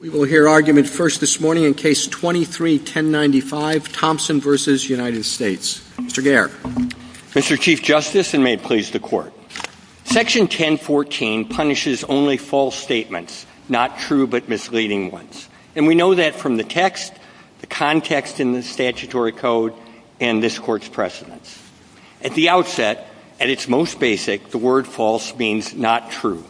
We will hear argument first this morning in Case 23-1095, Thompson v. United States. Mr. Gaird. Mr. Chief Justice, and may it please the Court, Section 1014 punishes only false statements, not true but misleading ones. And we know that from the text, the context in the statutory code, and this Court's precedents. At the outset, at its most basic, the word false means not true.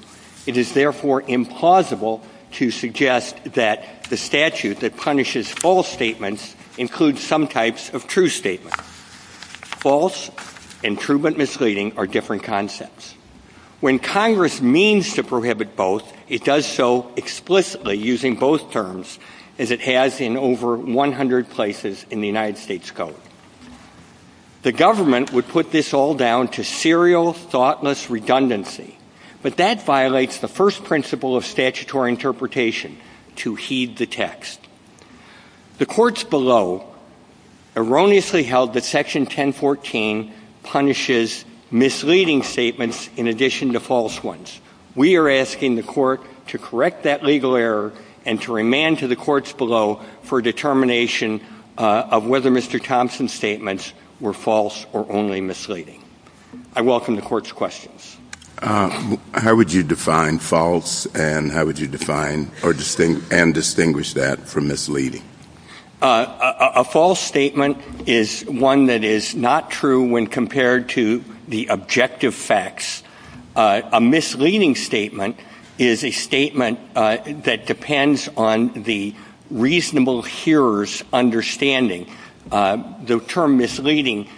It is therefore implausible to suggest that the statute that punishes false statements includes some types of true statements. False and true but misleading are different concepts. When Congress means to prohibit both, it does so explicitly, using both terms, as it has in over 100 places in the United States Code. The government would put this all down to serial, thoughtless redundancy. But that violates the first principle of statutory interpretation, to heed the text. The Courts below erroneously held that Section 1014 punishes misleading statements in addition to false ones. We are asking the Court to correct that legal error and to remand to the Courts below for determination of whether Mr. Thompson's statements were false or only misleading. I welcome the Court's questions. How would you define false and how would you define or distinguish that from misleading? A false statement is one that is not true when compared to the objective facts. A misleading statement is a statement that depends on the reasonable hearer's understanding. The term misleading,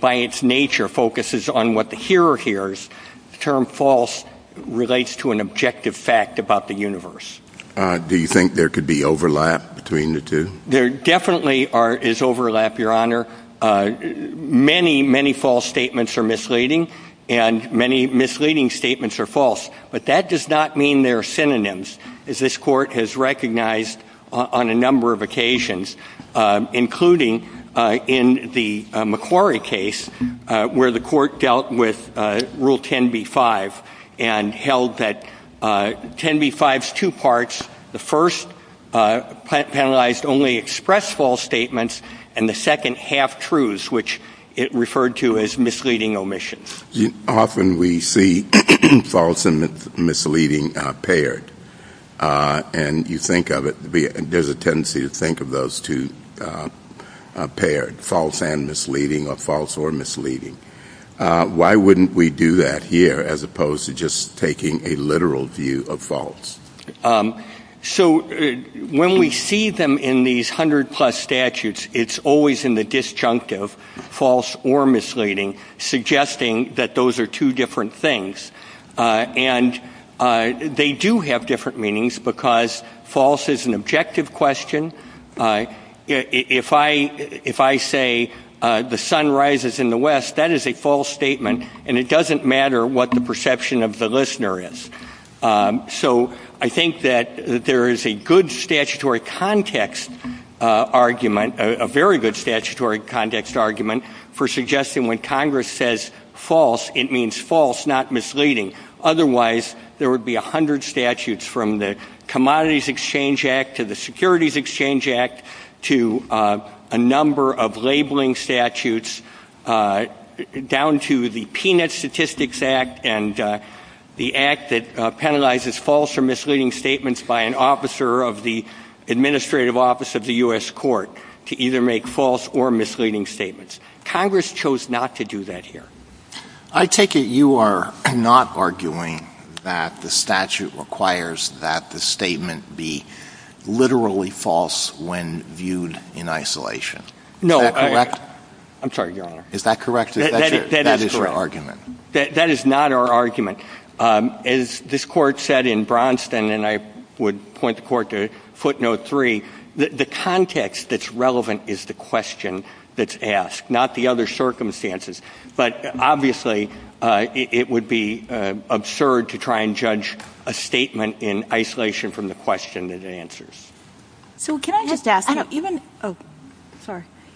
by its nature, focuses on what the hearer hears. The term false relates to an objective fact about the universe. Do you think there could be overlap between the two? There definitely is overlap, Your Honor. Many, many false statements are misleading and many misleading statements are false. But that does not mean they are synonyms, as this Court has recognized on a number of occasions, including in the McQuarrie case where the Court dealt with Rule 10b-5 and held that 10b-5 is two parts. The first penalized only expressed false statements and the second half-truths, which it referred to as misleading omissions. Often we see false and misleading paired, and you think of it, there's a tendency to think of those two paired, false and misleading or false or misleading. Why wouldn't we do that here as opposed to just taking a literal view of false? So when we see them in these 100-plus statutes, it's always in the disjunctive, false or misleading, suggesting that those are two different things. And they do have different meanings because false is an objective question. If I say the sun rises in the West, that is a false statement, and it doesn't matter what the perception of the listener is. So I think that there is a good statutory context argument, a very good statutory context argument, for suggesting when Congress says false, it means false, not misleading. Otherwise, there would be 100 statutes from the Commodities Exchange Act to the Securities Exchange Act to a number of labeling statutes down to the Peanut Statistics Act and the act that penalizes false or misleading statements by an officer of the administrative office of the U.S. court to either make false or misleading statements. Congress chose not to do that here. I take it you are not arguing that the statute requires that the statement be literally false when viewed in isolation. No. Is that correct? I'm sorry, Your Honor. Is that correct? That is correct. That is your argument. That is not our argument. As this Court said in Bronstein, and I would point the Court to footnote 3, the context that's relevant is the question that's asked, not the other circumstances. But obviously, it would be absurd to try and judge a statement in isolation from the question it answers. So can I just ask,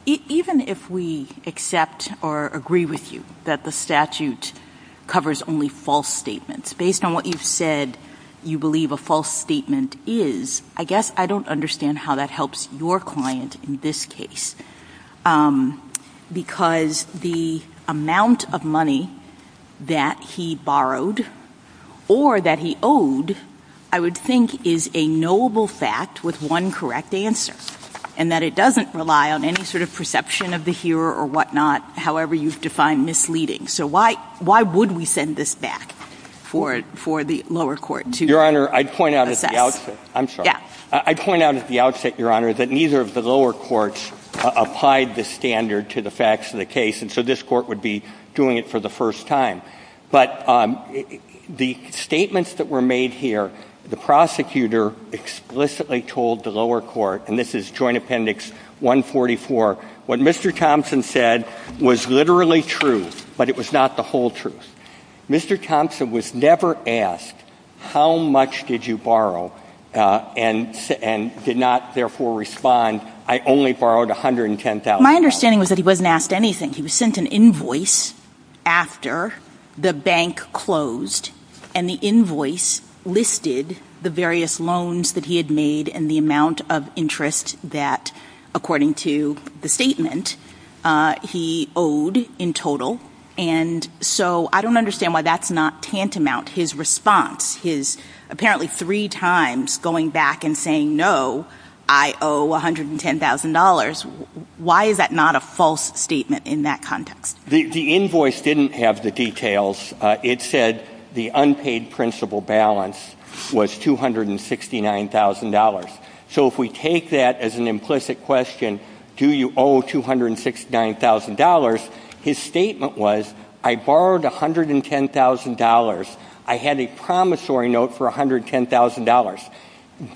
even if we accept or agree with you that the statute covers only false statements, based on what you've said you believe a false statement is, I guess I don't understand how that helps your client in this case. Because the amount of money that he borrowed or that he owed, I would think, is a knowable fact with one correct answer, and that it doesn't rely on any sort of perception of the hearer or whatnot, however you've defined misleading. So why would we send this back for the lower court to assess? Your Honor, I'd point out at the outset, I'm sorry. I applied this standard to the facts of the case, and so this Court would be doing it for the first time. But the statements that were made here, the prosecutor explicitly told the lower court, and this is Joint Appendix 144, what Mr. Thompson said was literally true, but it was not the whole truth. Mr. Thompson was never asked, how much did you borrow, and did not therefore respond, I only borrowed $110,000. My understanding was that he wasn't asked anything. He was sent an invoice after the bank closed, and the invoice listed the various loans that he had made and the amount of interest that, according to the statement, he owed in total. And so I don't understand why that's not tantamount. His response, his apparently three times going back and saying, no, I owe $110,000, why is that not a false statement in that context? The invoice didn't have the details. It said the unpaid principal balance was $269,000. So if we take that as an implicit question, do you owe $269,000, his statement was, I borrowed $110,000. I had a promissory note for $110,000.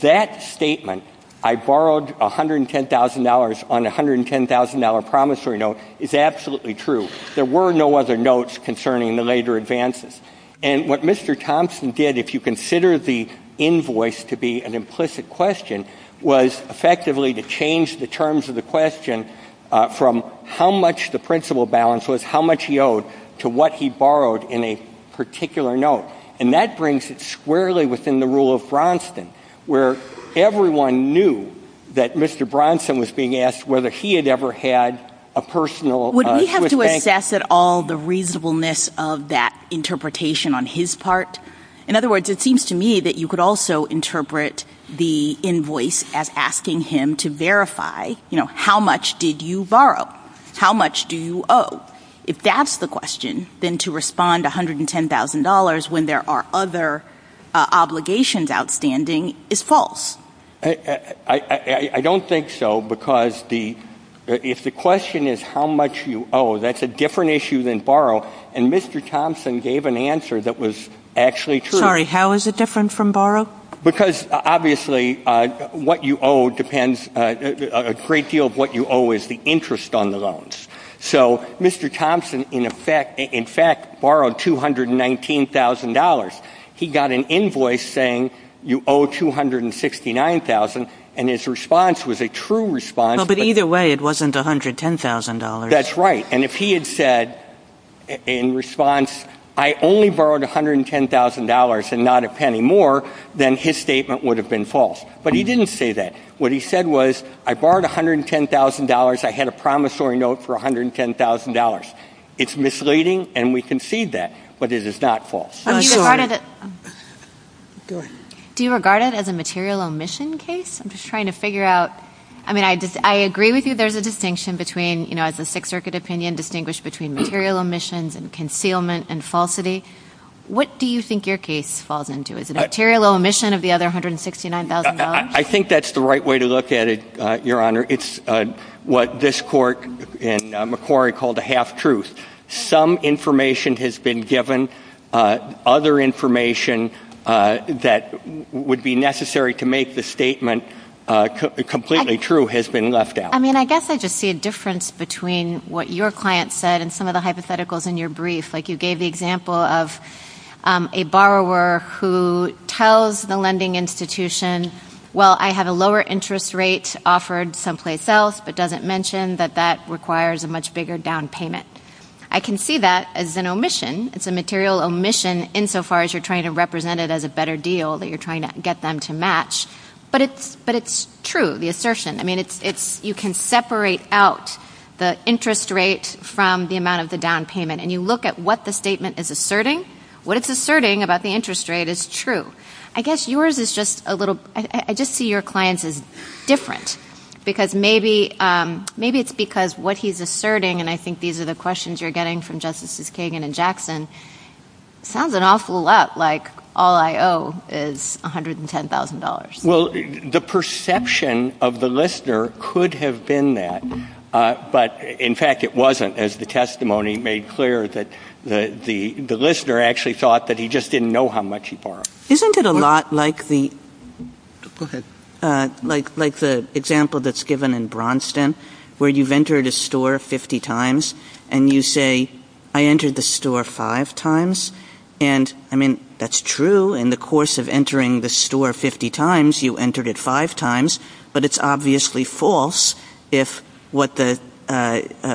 That statement, I borrowed $110,000 on a $110,000 promissory note, is absolutely true. There were no other notes concerning the later advances. And what Mr. Thompson did, if you consider the invoice to be an implicit question, was effectively to change the terms of the question from how much the principal balance was, how much he owed, to what he borrowed in a particular note. And that brings it squarely within the rule of Bronson, where everyone knew that Mr. Bronson was being asked whether he had ever had a personal. Would we have to assess at all the reasonableness of that interpretation on his part? In other words, it seems to me that you could also interpret the invoice as asking him to verify, you know, how much did you borrow? How much do you owe? If that's the question, then to respond $110,000 when there are other obligations outstanding is false. I don't think so, because if the question is how much you owe, that's a different issue than borrow. And Mr. Thompson gave an answer that was actually true. Sorry, how is it different from borrow? Because obviously what you owe depends, a great deal of what you owe is the interest on the loans. So Mr. Thompson, in fact, borrowed $219,000. He got an invoice saying you owe $269,000, and his response was a true response. But either way, it wasn't $110,000. That's right. And if he had said in response, I only borrowed $110,000 and not a penny more, then his statement would have been false. But he didn't say that. What he said was, I borrowed $110,000. I had a promissory note for $110,000. It's misleading, and we concede that, but it is not false. Do you regard it as a material omission case? I'm just trying to figure out. I mean, I agree with you there's a distinction between, you know, it's a Sixth Circuit opinion distinguished between material omissions and concealment and falsity. What do you think your case falls into? Is it a material omission of the other $169,000? I think that's the right way to look at it, Your Honor. It's what this court in Macquarie called a half-truth. Some information has been given. Other information that would be necessary to make the statement completely true has been left out. I mean, I guess I just see a difference between what your client said and some of the hypotheticals in your brief. Like you gave the example of a borrower who tells the lending institution, well, I have a lower interest rate offered someplace else, but doesn't mention that that requires a much bigger down payment. I can see that as an omission. It's a material omission insofar as you're trying to represent it as a better deal, that you're trying to get them to match, but it's true, the assertion. I mean, you can separate out the interest rate from the amount of the down payment, and you look at what the statement is asserting. What it's asserting about the interest rate is true. I guess yours is just a little – I just see your client's is different, because maybe it's because what he's asserting, and I think these are the questions you're getting from Justices Kagan and Jackson, sounds an awful lot like all I owe is $110,000. Well, the perception of the listener could have been that, but in fact it wasn't, as the testimony made clear that the listener actually thought that he just didn't know how much he borrowed. Isn't it a lot like the example that's given in Braunston, where you've entered a store 50 times, and you say, I entered the store five times? And, I mean, that's true. In the course of entering the store 50 times, you entered it five times, but it's obviously false if what the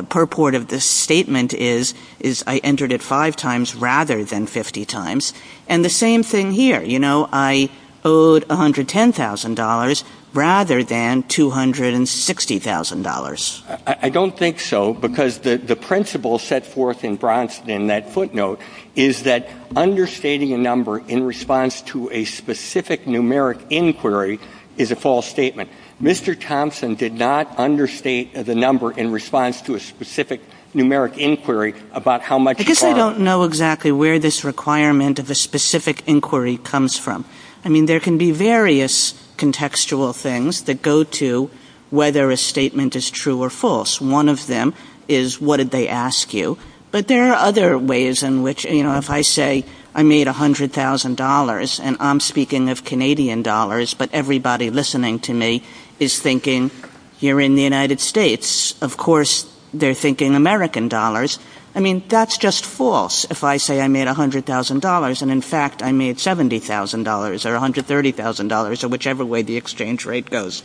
purport of the statement is, is I entered it five times rather than 50 times. And the same thing here, you know, I owed $110,000 rather than $260,000. I don't think so, because the principle set forth in Braunston in that footnote is that understating a number in response to a specific numeric inquiry is a false statement. Mr. Thompson did not understate the number in response to a specific numeric inquiry about how much he borrowed. Because I don't know exactly where this requirement of a specific inquiry comes from. I mean, there can be various contextual things that go to whether a statement is true or false. One of them is, what did they ask you? But there are other ways in which, you know, if I say, I made $100,000, and I'm speaking of Canadian dollars, but everybody listening to me is thinking, you're in the United States, of course they're thinking American dollars. I mean, that's just false if I say I made $100,000 and in fact I made $70,000 or $130,000 or whichever way the exchange rate goes.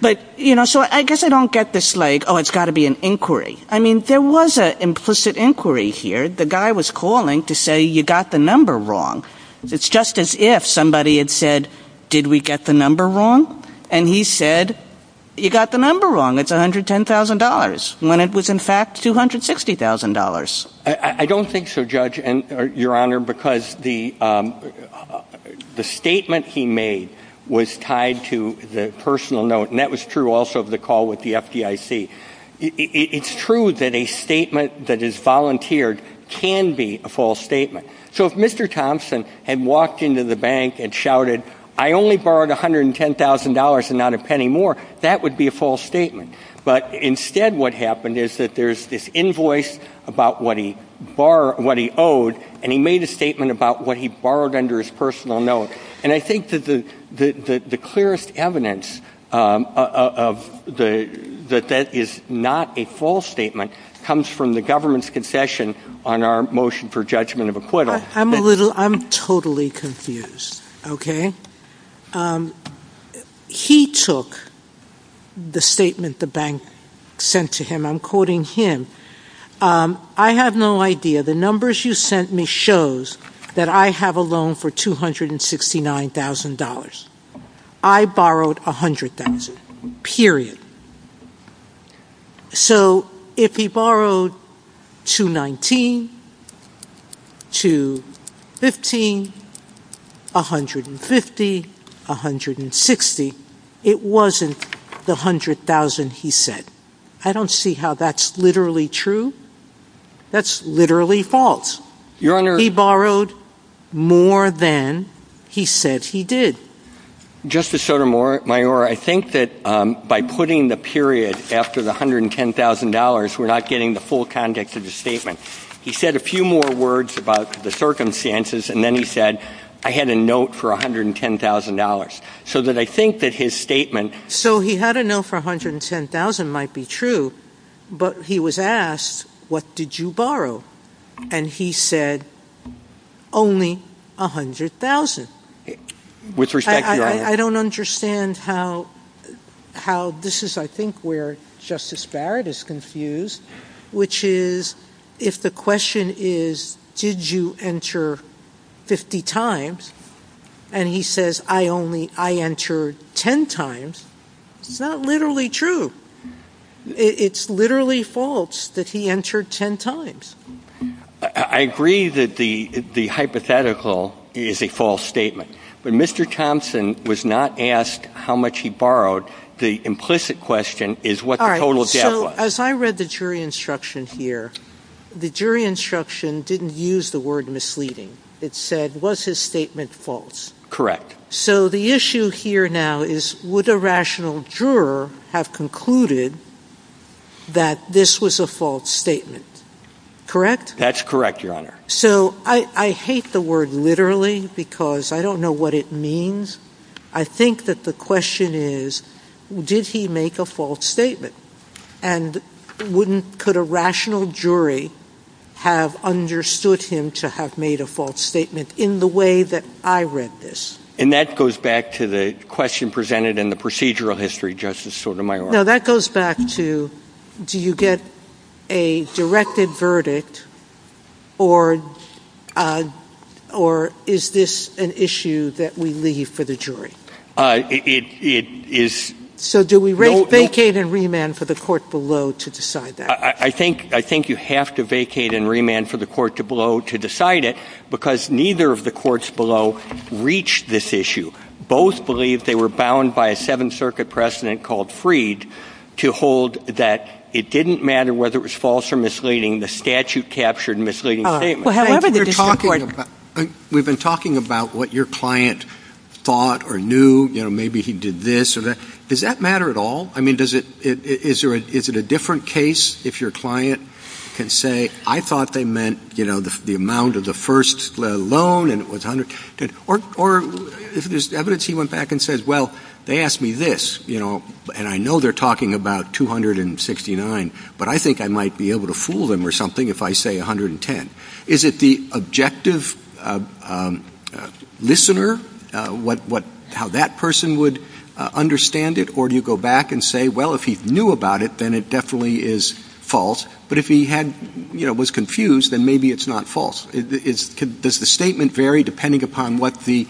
But, you know, so I guess I don't get this like, oh, it's got to be an inquiry. I mean, there was an implicit inquiry here. The guy was calling to say, you got the number wrong. It's just as if somebody had said, did we get the number wrong? And he said, you got the number wrong, it's $110,000. When it was in fact $260,000. I don't think so, Judge, Your Honor, because the statement he made was tied to the personal note, and that was true also of the call with the FDIC. It's true that a statement that is volunteered can be a false statement. So if Mr. Thompson had walked into the bank and shouted, I only borrowed $110,000 and not a penny more, that would be a false statement. But instead what happened is that there's this invoice about what he owed, and he made a statement about what he borrowed under his personal note. And I think that the clearest evidence that that is not a false statement comes from the government's confession on our motion for judgment of acquittal. I'm totally confused, okay? He took the statement the bank sent to him. I'm quoting him. I have no idea. The numbers you sent me shows that I have a loan for $269,000. I borrowed $100,000, period. So if he borrowed $219,000, $215,000, $150,000, $160,000, it wasn't the $100,000 he said. I don't see how that's literally true. That's literally false. He borrowed more than he said he did. Justice Sotomayor, I think that by putting the period after the $110,000, we're not getting the full context of the statement. He said a few more words about the circumstances, and then he said, I had a note for $110,000. So that I think that his statement So he had a note for $110,000 might be true, but he was asked, what did you borrow? And he said, only $100,000. I don't understand how this is, I think, where Justice Barrett is confused, which is, if the question is, did you enter 50 times, and he says, I entered 10 times, it's not literally true. It's literally false that he entered 10 times. I agree that the hypothetical is a false statement. But Mr. Thompson was not asked how much he borrowed. The implicit question is what the total debt was. As I read the jury instruction here, the jury instruction didn't use the word misleading. It said, was his statement false? Correct. So the issue here now is, would a rational juror have concluded that this was a false statement? Correct? That's correct, Your Honor. So I hate the word literally, because I don't know what it means. I think that the question is, did he make a false statement? And could a rational jury have understood him to have made a false statement in the way that I read this? And that goes back to the question presented in the procedural history, Justice Sotomayor. No, that goes back to, do you get a directed verdict, or is this an issue that we leave for the jury? So do we vacate and remand for the court below to decide that? I think you have to vacate and remand for the court below to decide it, because neither of the courts below reached this issue. Both believe they were bound by a Seventh Circuit precedent called Freed to hold that it didn't matter whether it was false or misleading, the statute captured misleading statements. We've been talking about what your client thought or knew, you know, maybe he did this or that. Does that matter at all? I mean, is it a different case if your client can say, I thought they meant, you know, the amount of the first loan, or if there's evidence he went back and says, well, they asked me this, you know, and I know they're talking about 269, but I think I might be able to fool them or something if I say 110. Is it the objective listener, how that person would understand it? Or do you go back and say, well, if he knew about it, then it definitely is false. But if he was confused, then maybe it's not false. Does the statement vary depending upon what the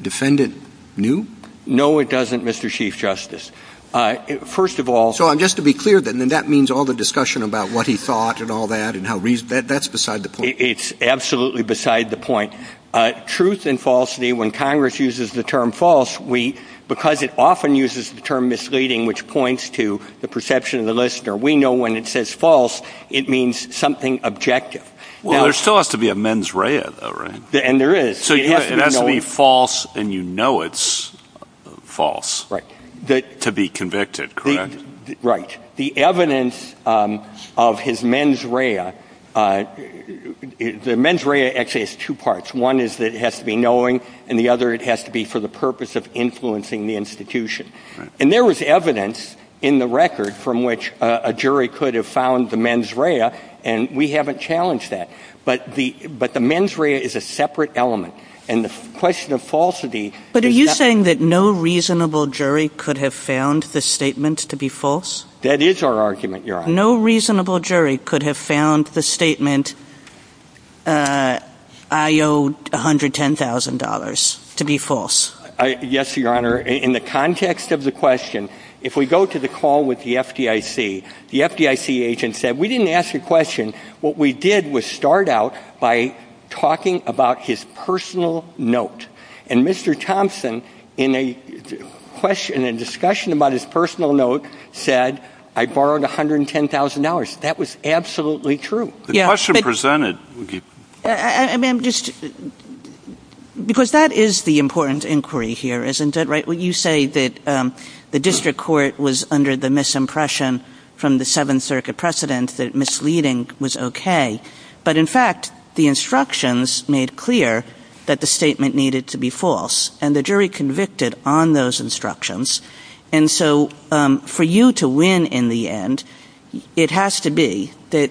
defendant knew? No, it doesn't, Mr. Chief Justice. So just to be clear, then, that means all the discussion about what he thought and all that, that's beside the point. It's absolutely beside the point. Truth and falsity, when Congress uses the term false, because it often uses the term misleading, which points to the perception of the listener, we know when it says false, it means something objective. Well, there still has to be a mens rea, though, right? And there is. So it has to be false, and you know it's false. Right. To be convicted, correct? Right. The evidence of his mens rea, the mens rea actually has two parts. One is that it has to be knowing, and the other, it has to be for the purpose of influencing the institution. And there was evidence in the record from which a jury could have found the mens rea, and we haven't challenged that. But the mens rea is a separate element. But are you saying that no reasonable jury could have found the statement to be false? That is our argument, Your Honor. No reasonable jury could have found the statement, I owe $110,000, to be false? Yes, Your Honor. In the context of the question, if we go to the call with the FDIC, the FDIC agent said, we didn't ask you a question. What we did was start out by talking about his personal note. And Mr. Thompson, in a discussion about his personal note, said, I borrowed $110,000. That was absolutely true. Because that is the important inquiry here, isn't it? You say that the district court was under the misimpression from the Seventh Circuit precedent that misleading was okay. But in fact, the instructions made clear that the statement needed to be false. And the jury convicted on those instructions. And so, for you to win in the end, it has to be that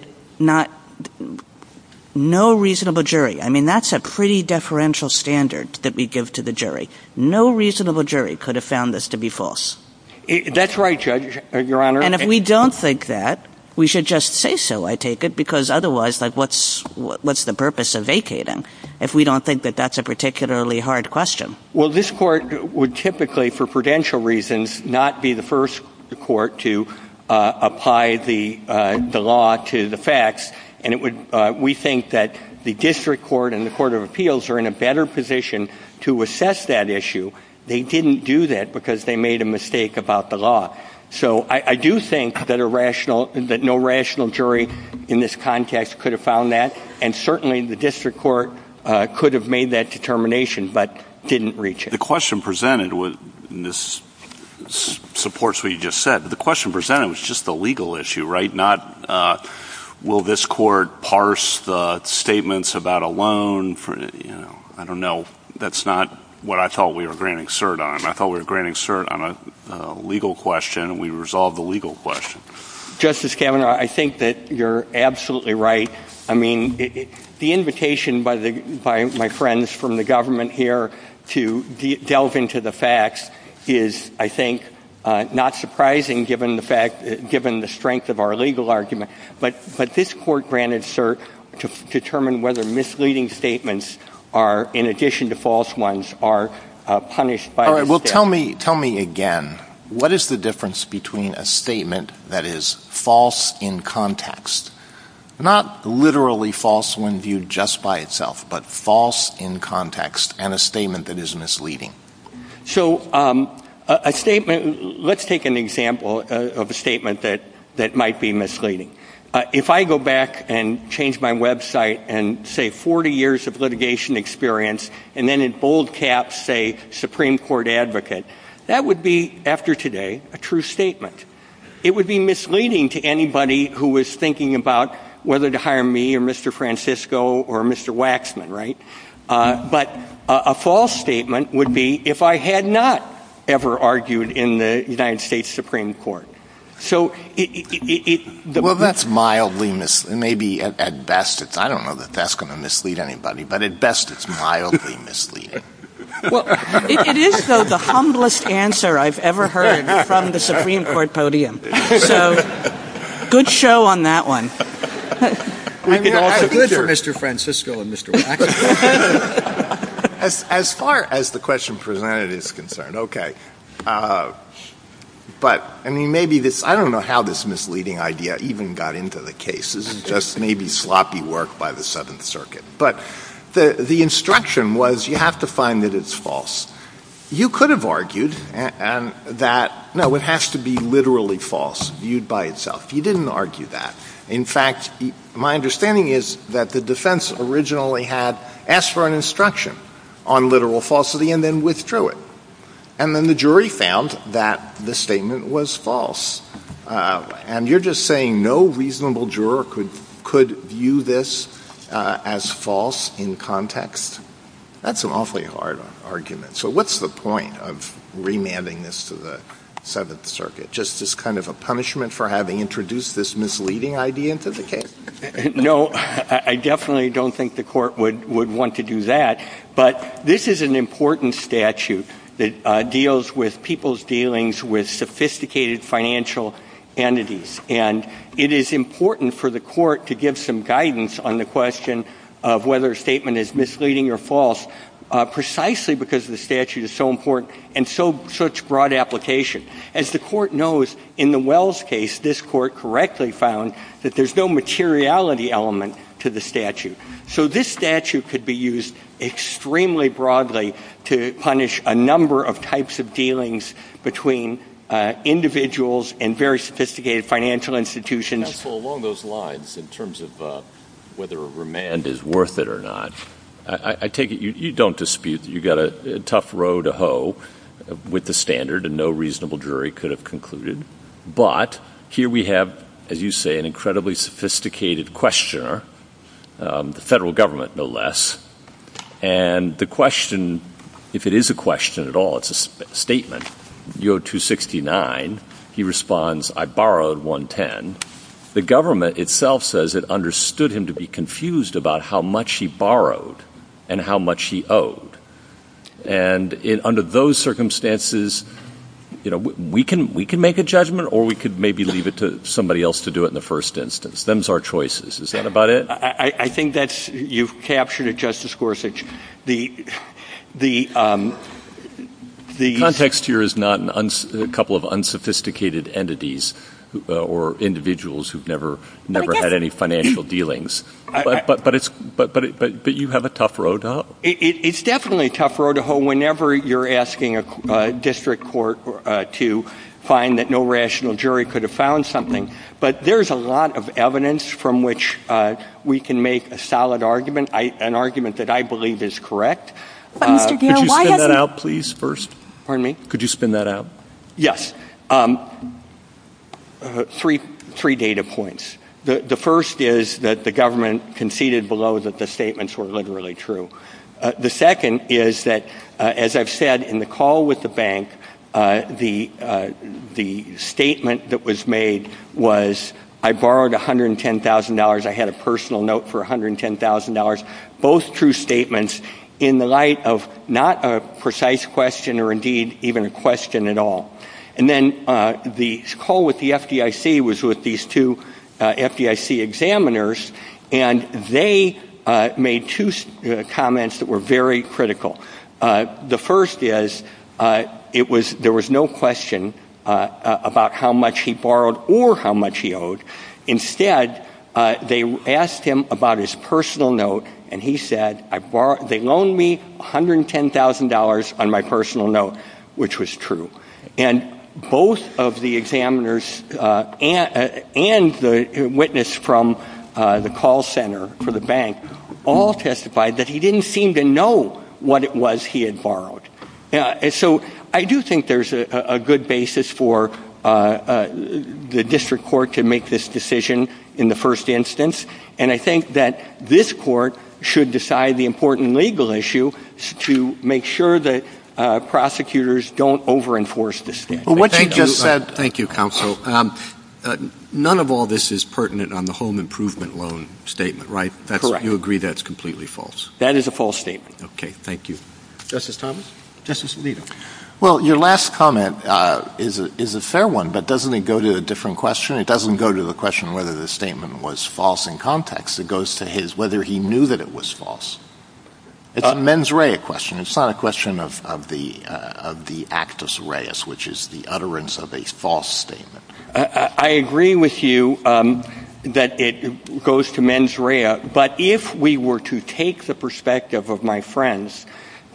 no reasonable jury. I mean, that's a pretty deferential standard that we give to the jury. No reasonable jury could have found this to be false. That's right, Judge, Your Honor. And if we don't think that, we should just say so, I take it. Because otherwise, what's the purpose of vacating if we don't think that that's a particularly hard question? Well, this court would typically, for prudential reasons, not be the first court to apply the law to the facts. And we think that the district court and the court of appeals are in a better position to assess that issue. They didn't do that because they made a mistake about the law. So I do think that no rational jury in this context could have found that. And certainly the district court could have made that determination but didn't reach it. The question presented in this supports what you just said. The question presented was just the legal issue, right, not will this court parse the statements about a loan. I don't know. That's not what I thought we were granting cert on. I thought we were granting cert on a legal question. We resolved the legal question. Justice Kavanaugh, I think that you're absolutely right. I mean, the invitation by my friends from the government here to delve into the facts is, I think, not surprising given the strength of our legal argument. But this court granted cert to determine whether misleading statements are, in addition to false ones, are punished by the district. Well, tell me again, what is the difference between a statement that is false in context, not literally false when viewed just by itself, but false in context, and a statement that is misleading? So a statement, let's take an example of a statement that might be misleading. If I go back and change my website and say 40 years of litigation experience and then in bold caps say Supreme Court advocate, that would be, after today, a true statement. It would be misleading to anybody who was thinking about whether to hire me or Mr. Francisco or Mr. Waxman, right? But a false statement would be if I had not ever argued in the United States Supreme Court. Well, that's mildly misleading. Maybe at best, I don't know that that's going to mislead anybody, but at best it's mildly misleading. It is, though, the humblest answer I've ever heard from the Supreme Court podium. So, good show on that one. I could argue for Mr. Francisco and Mr. Waxman. As far as the question presented is concerned, okay. But, I mean, maybe this, I don't know how this misleading idea even got into the case. This is just maybe sloppy work by the Seventh Circuit. But the instruction was you have to find that it's false. You could have argued that, no, it has to be literally false, viewed by itself. You didn't argue that. In fact, my understanding is that the defense originally had asked for an instruction on literal falsity and then withdrew it. And then the jury found that the statement was false. And you're just saying no reasonable juror could view this as false in context? That's an awfully hard argument. So what's the point of remanding this to the Seventh Circuit? Just as kind of a punishment for having introduced this misleading idea into the case? No, I definitely don't think the court would want to do that. But this is an important statute that deals with people's dealings with sophisticated financial entities. And it is important for the court to give some guidance on the question of whether a statement is misleading or false, precisely because the statute is so important and such broad application. As the court knows, in the Wells case, this court correctly found that there's no materiality element to the statute. So this statute could be used extremely broadly to punish a number of types of dealings between individuals and very sophisticated financial institutions. Also, along those lines, in terms of whether a remand is worth it or not, I take it you don't dispute that you got a tough row to hoe with the standard, and no reasonable jury could have concluded. But here we have, as you say, an incredibly sophisticated questioner, the federal government, no less. And the question, if it is a question at all, it's a statement, U.O. 269, he responds, I borrowed 110. The government itself says it understood him to be confused about how much he borrowed and how much he owed. And under those circumstances, we can make a judgment or we could maybe leave it to somebody else to do it in the first instance. Them's our choices. Is that about it? I think that you've captured it, Justice Gorsuch. The context here is not a couple of unsophisticated entities or individuals who've never had any financial dealings. But you have a tough row to hoe? It's definitely a tough row to hoe whenever you're asking a district court to find that no rational jury could have found something. But there's a lot of evidence from which we can make a solid argument, an argument that I believe is correct. Could you spin that out, please, first? Pardon me? Could you spin that out? Yes. Three data points. The first is that the government conceded below that the statements were literally true. The second is that, as I've said, in the call with the bank, the statement that was made was, I borrowed $110,000. I had a personal note for $110,000. Both true statements in the light of not a precise question or, indeed, even a question at all. And then the call with the FDIC was with these two FDIC examiners, and they made two comments that were very critical. The first is, there was no question about how much he borrowed or how much he owed. And the second is, there was no question about how much he borrowed or how much he owed. Instead, they asked him about his personal note, and he said, they loaned me $110,000 on my personal note, which was true. And both of the examiners and the witness from the call center for the bank all testified that he didn't seem to know what it was he had borrowed. So, I do think there's a good basis for the district court to make this decision in the first instance. And I think that this court should decide the important legal issue to make sure that prosecutors don't over-enforce this. Thank you, counsel. None of all this is pertinent on the home improvement loan statement, right? Correct. You agree that's completely false? That is a false statement. Okay, thank you. Justice Thomas? Justice Alito? Well, your last comment is a fair one, but doesn't it go to a different question? It doesn't go to the question whether the statement was false in context. It goes to whether he knew that it was false. It's a mens rea question. It's not a question of the actus reus, which is the utterance of a false statement. I agree with you that it goes to mens rea. But if we were to take the perspective of my friends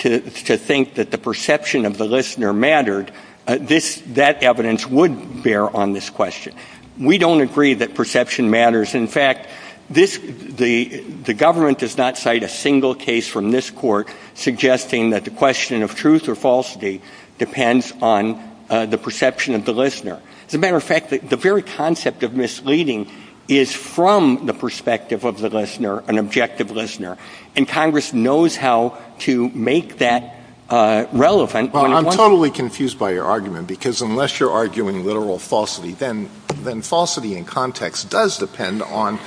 to think that the perception of the listener mattered, that evidence would bear on this question. We don't agree that perception matters. In fact, the government does not cite a single case from this court suggesting that the question of truth or falsity depends on the perception of the listener. As a matter of fact, the very concept of misleading is from the perspective of the listener, an objective listener, and Congress knows how to make that relevant. Well, I'm totally confused by your argument, because unless you're arguing literal falsity, then falsity in context does depend on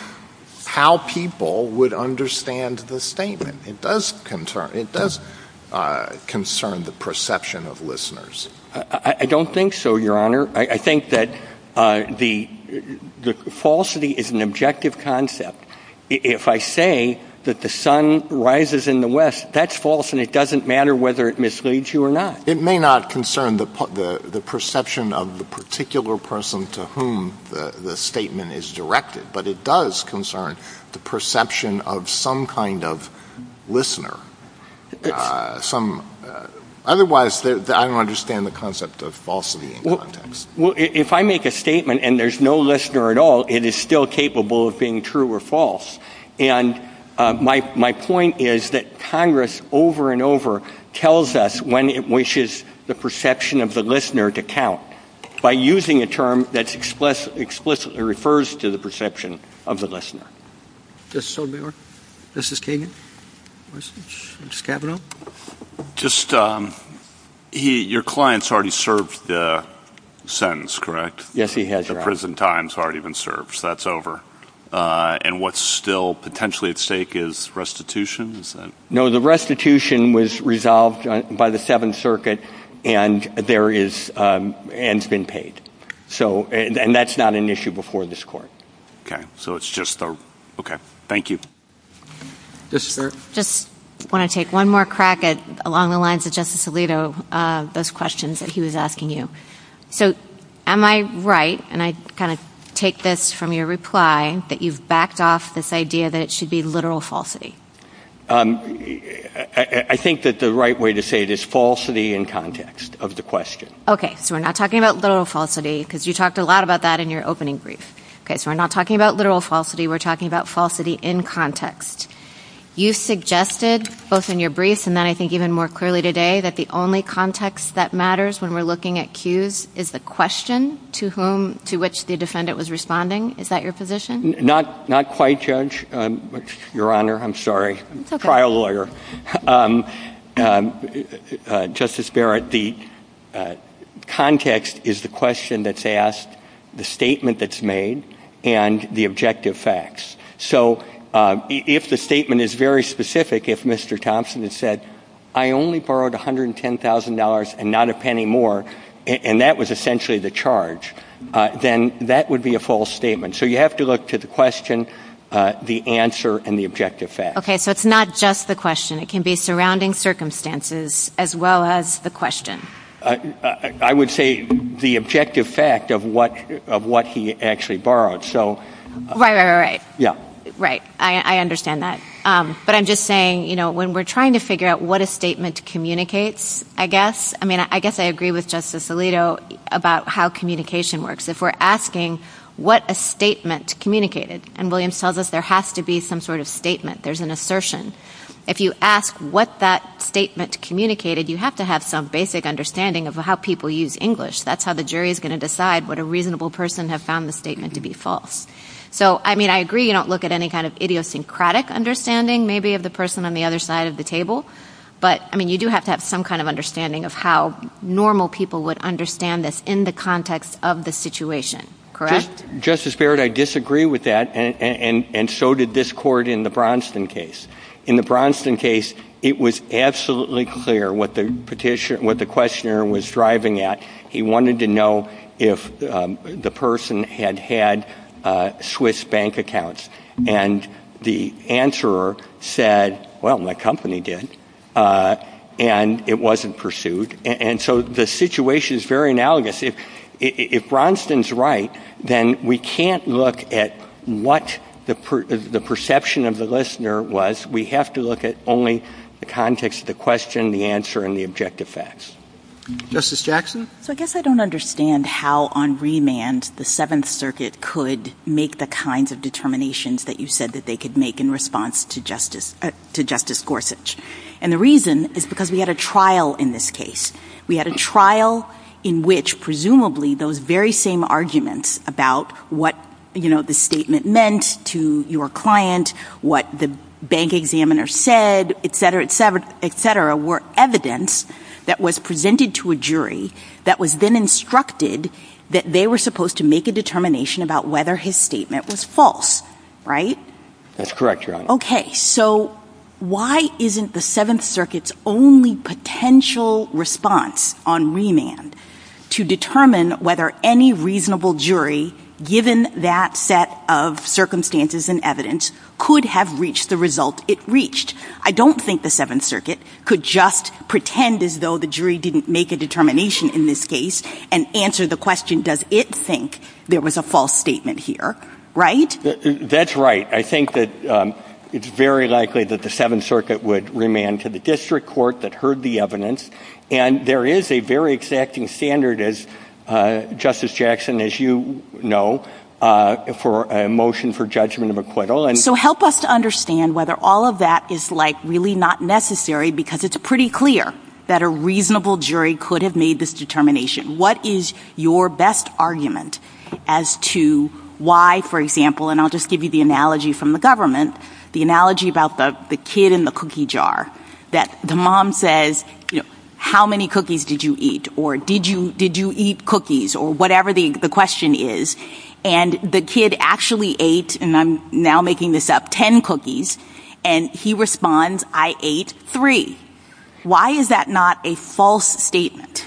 how people would understand the statement. It does concern the perception of listeners. I don't think so, Your Honor. I think that the falsity is an objective concept. If I say that the sun rises in the West, that's false, and it doesn't matter whether it misleads you or not. It may not concern the perception of the particular person to whom the statement is directed, but it does concern the perception of some kind of listener. Otherwise, I don't understand the concept of falsity in context. Well, if I make a statement and there's no listener at all, it is still capable of being true or false. And my point is that Congress over and over tells us when it wishes the perception of the listener to count by using a term that explicitly refers to the perception of the listener. Justice Sotomayor? Justice Kavanaugh? Your client's already served the sentence, correct? Yes, he has, Your Honor. The prison time's already been served, so that's over. And what's still potentially at stake is restitution? No, the restitution was resolved by the Seventh Circuit and has been paid. And that's not an issue before this court. Okay, so it's just a-okay, thank you. Yes, sir? I just want to take one more crack along the lines of Justice Alito, those questions that he was asking you. So am I right, and I kind of take this from your reply, that you've backed off this idea that it should be literal falsity? I think that the right way to say it is falsity in context of the question. Okay, so we're not talking about literal falsity, because you talked a lot about that in your opening brief. Okay, so we're not talking about literal falsity, we're talking about falsity in context. You suggested, both in your brief and then I think even more clearly today, that the only context that matters when we're looking at cues is the question to whom-to which the defendant was responding. Is that your position? Not-not quite, Judge-Your Honor, I'm sorry. Okay. Trial lawyer. Justice Barrett, the context is the question that's asked, the statement that's made, and the objective facts. So if the statement is very specific, if Mr. Thompson has said, I only borrowed $110,000 and not a penny more, and that was essentially the charge, then that would be a false statement. So you have to look to the question, the answer, and the objective facts. Okay, so it's not just the question. It can be surrounding circumstances as well as the question. I would say the objective fact of what he actually borrowed. Right, right, right. Yeah. Right, I understand that. But I'm just saying, you know, when we're trying to figure out what a statement communicates, I guess, I mean, I guess I agree with Justice Alito about how communication works. If we're asking what a statement communicated, and William tells us there has to be some sort of statement, there's an assertion. If you ask what that statement communicated, you have to have some basic understanding of how people use English. That's how the jury is going to decide what a reasonable person has found the statement to be false. So, I mean, I agree you don't look at any kind of idiosyncratic understanding, maybe, of the person on the other side of the table. But, I mean, you do have to have some kind of understanding of how normal people would understand this in the context of the situation. Correct? Well, Justice Barrett, I disagree with that, and so did this court in the Bronson case. In the Bronson case, it was absolutely clear what the questioner was driving at. He wanted to know if the person had had Swiss bank accounts. And the answerer said, well, my company did. And it wasn't pursued. And so the situation is very analogous. If Bronson's right, then we can't look at what the perception of the listener was. We have to look at only the context of the question, the answer, and the objective facts. Justice Jackson? So, I guess I don't understand how, on remand, the Seventh Circuit could make the kinds of determinations that you said that they could make in response to Justice Gorsuch. And the reason is because we had a trial in this case. We had a trial in which, presumably, those very same arguments about what the statement meant to your client, what the bank examiner said, etc., etc., etc., were evidence that was presented to a jury that had been instructed that they were supposed to make a determination about whether his statement was false. Right? That's correct, Your Honor. Okay. So, why isn't the Seventh Circuit's only potential response on remand to determine whether any reasonable jury, given that set of circumstances and evidence, could have reached the result it reached? I don't think the Seventh Circuit could just pretend as though the jury didn't make a determination in this case and answer the question, does it think there was a false statement here. Right? That's right. I think that it's very likely that the Seventh Circuit would remand to the district court that heard the evidence. And there is a very exacting standard, as Justice Jackson, as you know, for a motion for judgment of acquittal. So help us to understand whether all of that is, like, really not necessary, because it's pretty clear that a reasonable jury could have made this determination. What is your best argument as to why, for example, and I'll just give you the analogy from the government, the analogy about the kid in the cookie jar, that the mom says, how many cookies did you eat? Or did you eat cookies? Or whatever the question is. And the kid actually ate, and I'm now making this up, ten cookies. And he responds, I ate three. Why is that not a false statement?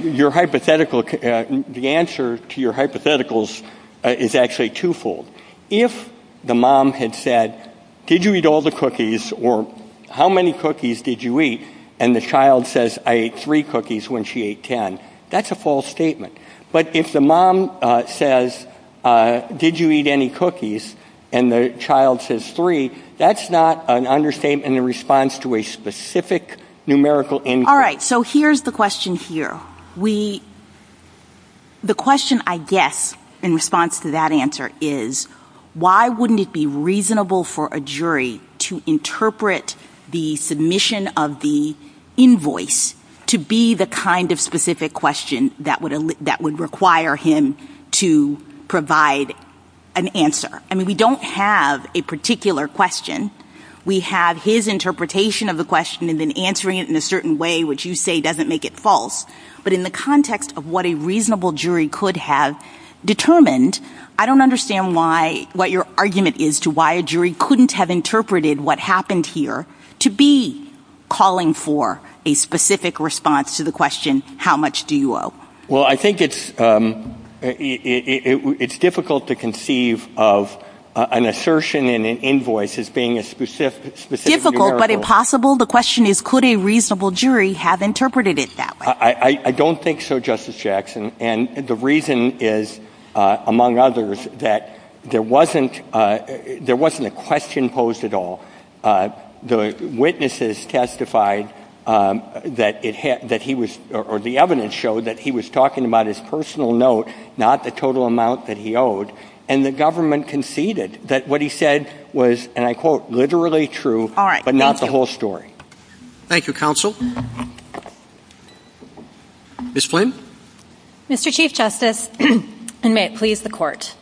Your hypothetical, the answer to your hypotheticals is actually two-fold. If the mom had said, did you eat all the cookies, or how many cookies did you eat, and the child says, I ate three cookies when she ate ten, that's a false statement. But if the mom says, did you eat any cookies, and the child says three, that's not an understatement in response to a specific numerical input. All right, so here's the question here. The question, I guess, in response to that answer is, why wouldn't it be reasonable for a jury to interpret the submission of the invoice to be the kind of specific question that would require him to provide an answer? I mean, we don't have a particular question. We have his interpretation of the question and then answering it in a certain way, which you say doesn't make it false. But in the context of what a reasonable jury could have determined, I don't understand what your argument is to why a jury couldn't have interpreted what happened here to be calling for a specific response to the question, how much do you owe? Well, I think it's difficult to conceive of an assertion in an invoice as being a specific numerical. Difficult, but impossible? The question is, could a reasonable jury have interpreted it that way? I don't think so, Justice Jackson. And the reason is, among others, that there wasn't a question posed at all. The witnesses testified that he was, or the evidence showed that he was talking about his personal note, not the total amount that he owed. And the government conceded that what he said was, and I quote, literally true, but not the whole story. Thank you, counsel. Ms. Flynn? Mr. Chief Justice, and may it please the Court,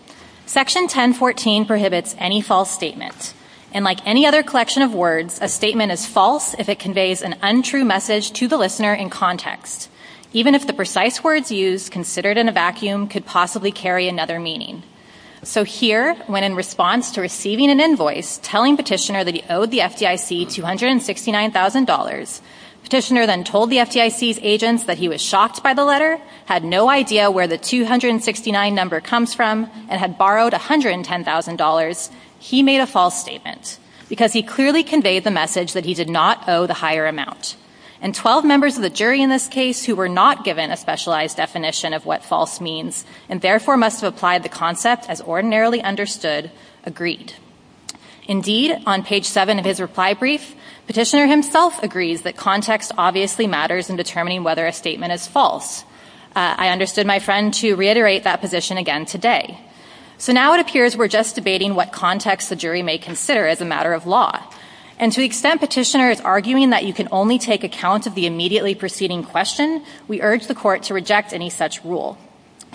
Section 1014 prohibits any false statement. And like any other collection of words, a statement is false if it conveys an untrue message to the listener in context, even if the precise words used, considered in a vacuum, could possibly carry another meaning. So here, when in response to receiving an invoice telling Petitioner that he owed the FDIC $269,000, Petitioner then told the FDIC's agents that he was shocked by the letter, had no idea where the 269 number comes from, and had borrowed $110,000, he made a false statement, because he clearly conveyed the message that he did not owe the higher amount. And 12 members of the jury in this case who were not given a specialized definition of what false means, and therefore must have applied the concept as ordinarily understood, agreed. Indeed, on page 7 of his reply brief, Petitioner himself agrees that context obviously matters in determining whether a statement is false. I understood my friend to reiterate that position again today. So now it appears we're just debating what context the jury may consider as a matter of law. And to the extent Petitioner is arguing that you can only take account of the immediately preceding question, we urge the court to reject any such rule.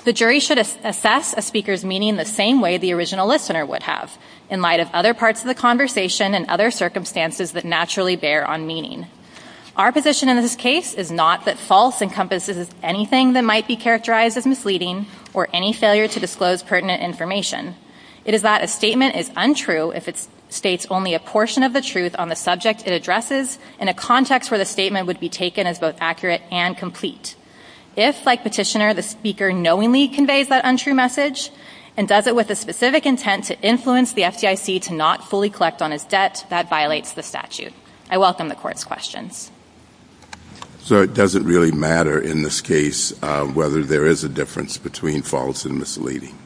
The jury should assess a speaker's meaning the same way the original listener would have, in light of other parts of the conversation and other circumstances that naturally bear on meaning. Our position in this case is not that false encompasses anything that might be characterized as misleading or any failure to disclose pertinent information. It is that a statement is untrue if it states only a portion of the truth on the subject it addresses in a context where the statement would be taken as both accurate and complete. If, like Petitioner, the speaker knowingly conveys that untrue message and does it with the specific intent to influence the FDIC to not fully collect on his debt, that violates the statute. I welcome the court's questions. So it doesn't really matter in this case whether there is a difference between false and misleading?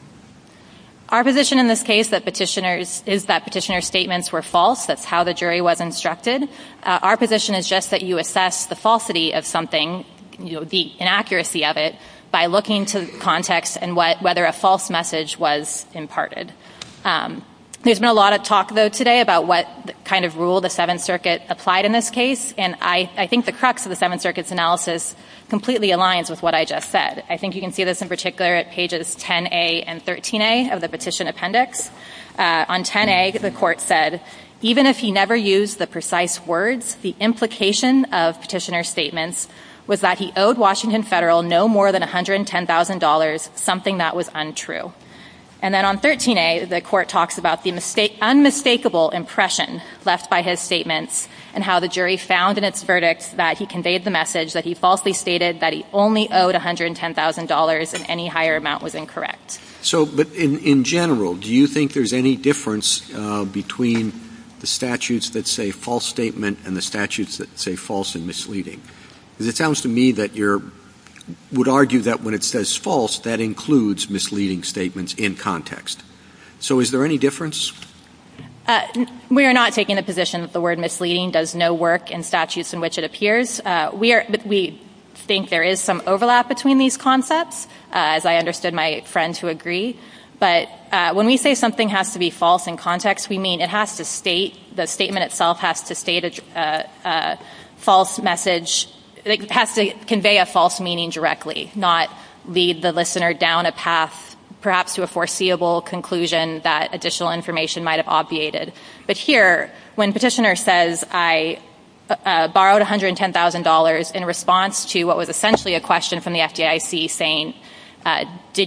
Our position in this case is that Petitioner's statements were false. That's how the jury was instructed. Our position is just that you assess the falsity of something, the inaccuracy of it, by looking to the context and whether a false message was imparted. There's been a lot of talk, though, today about what kind of rule the Seventh Circuit applied in this case, and I think the crux of the Seventh Circuit's analysis completely aligns with what I just said. I think you can see this in particular at pages 10a and 13a of the petition appendix. On 10a, the court said, even if he never used the precise words, the implication of Petitioner's statements was that he owed Washington Federal no more than $110,000, something that was untrue. And then on 13a, the court talks about the unmistakable impression left by his statements and how the jury found in its verdict that he conveyed the message that he falsely stated that he only owed $110,000 and any higher amount was incorrect. But in general, do you think there's any difference between the statutes that say false statement and the statutes that say false and misleading? Because it sounds to me that you would argue that when it says false, that includes misleading statements in context. So is there any difference? We are not taking the position that the word misleading does no work in statutes in which it appears. We think there is some overlap between these concepts. As I understood my friend to agree. But when we say something has to be false in context, we mean it has to state, the statement itself has to convey a false meaning directly, not lead the listener down a path perhaps to a foreseeable conclusion that additional information might have obviated. But here, when Petitioner says I borrowed $110,000 in response to what was essentially a question from the FDIC saying do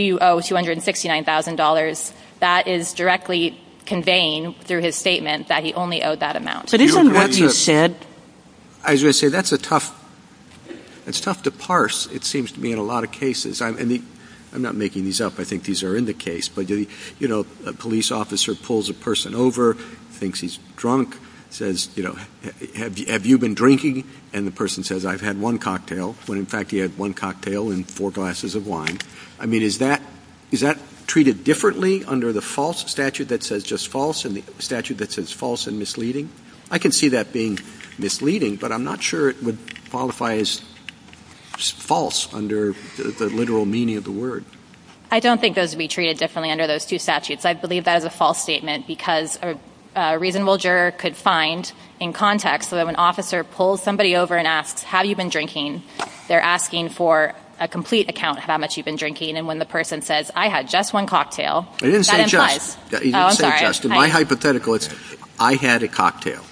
you owe $269,000, that is directly conveying through his statement that he only owed that amount. But isn't what you said... I was going to say, that's a tough... It's tough to parse, it seems to me, in a lot of cases. I'm not making these up, I think these are in the case. But, you know, a police officer pulls a person over, thinks he's drunk, says, you know, if you had one cocktail and four glasses of wine. I mean, is that treated differently under the false statute that says just false and the statute that says false and misleading? I can see that being misleading, but I'm not sure it would qualify as false under the literal meaning of the word. I don't think those would be treated differently under those two statutes. I believe that is a false statement because a reasonable juror could find in context that when an officer pulls somebody over and asks, have you been drinking, they're asking for a complete account of how much you've been drinking. And when the person says, I had just one cocktail, that implies... It didn't say just. Oh, I'm sorry. My hypothetical is, I had a cocktail.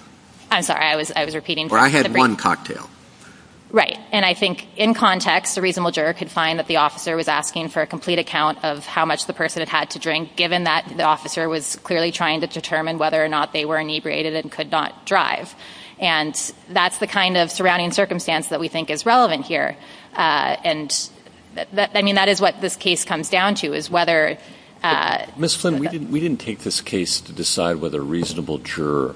I'm sorry, I was repeating... Or I had one cocktail. Right. And I think in context, a reasonable juror could find that the officer was asking for a complete account of how much the person had had to drink, given that the officer was clearly trying to determine whether or not they were inebriated and could not drive. And that's the kind of surrounding circumstance that we think is relevant here. And, I mean, that is what this case comes down to, is whether... Ms. Flynn, we didn't take this case to decide whether a reasonable juror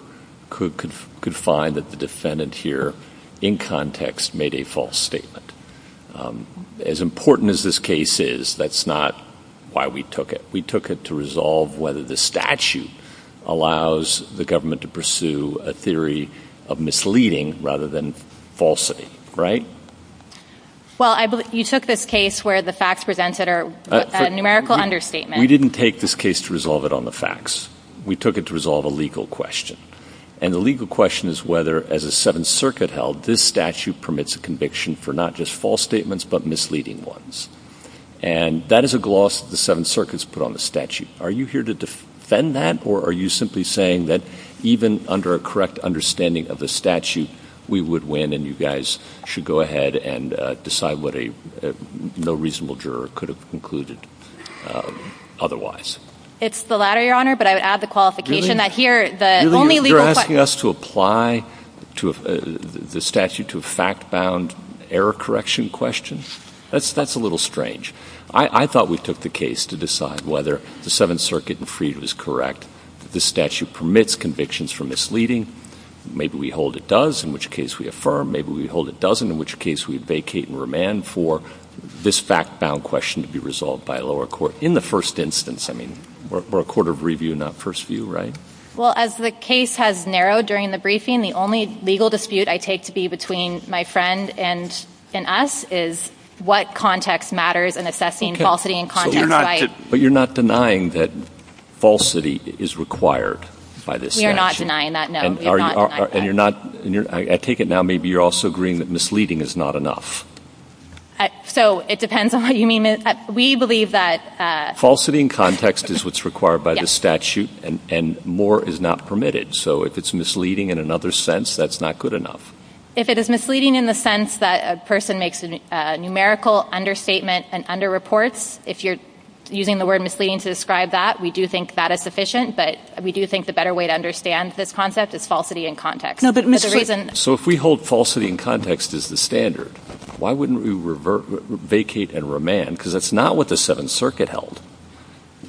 could find that the defendant here, in context, made a false statement. As important as this case is, that's not why we took it. We took it to resolve whether this statute allows the government to pursue a theory of misleading rather than falsity, right? Well, you took this case where the facts presented are a numerical understatement. We didn't take this case to resolve it on the facts. We took it to resolve a legal question. And the legal question is whether, as the Seventh Circuit held, this statute permits a conviction for not just false statements but misleading ones. And that is a gloss that the Seventh Circuit has put on the statute. Are you here to defend that, or are you simply saying that even under a correct understanding of the statute, we would win and you guys should go ahead and decide what a no reasonable juror could have concluded otherwise? It's the latter, Your Honor, but I would add the qualification that here the only legal question... Really, you're asking us to apply the statute to a fact-bound error correction question? That's a little strange. I thought we took the case to decide whether the Seventh Circuit in Freed was correct. This statute permits convictions for misleading. Maybe we hold it does, in which case we affirm. Maybe we hold it doesn't, in which case we vacate and remand for this fact-bound question to be resolved by a lower court. In the first instance, I mean, we're a court of review, not first view, right? Well, as the case has narrowed during the briefing, the only legal dispute I take to be between my friend and us is what context matters in assessing falsity in context. But you're not denying that falsity is required by this statute? We are not denying that, no. I take it now maybe you're also agreeing that misleading is not enough. So it depends on what you mean. We believe that... Falsity in context is what's required by this statute, and more is not permitted. So if it's misleading in another sense, that's not good enough. If it is misleading in the sense that a person makes a numerical understatement and under-reports, if you're using the word misleading to describe that, we do think that is sufficient, but we do think the better way to understand this concept is falsity in context. So if we hold falsity in context as the standard, why wouldn't we vacate and remand? Because that's not what the Seventh Circuit held.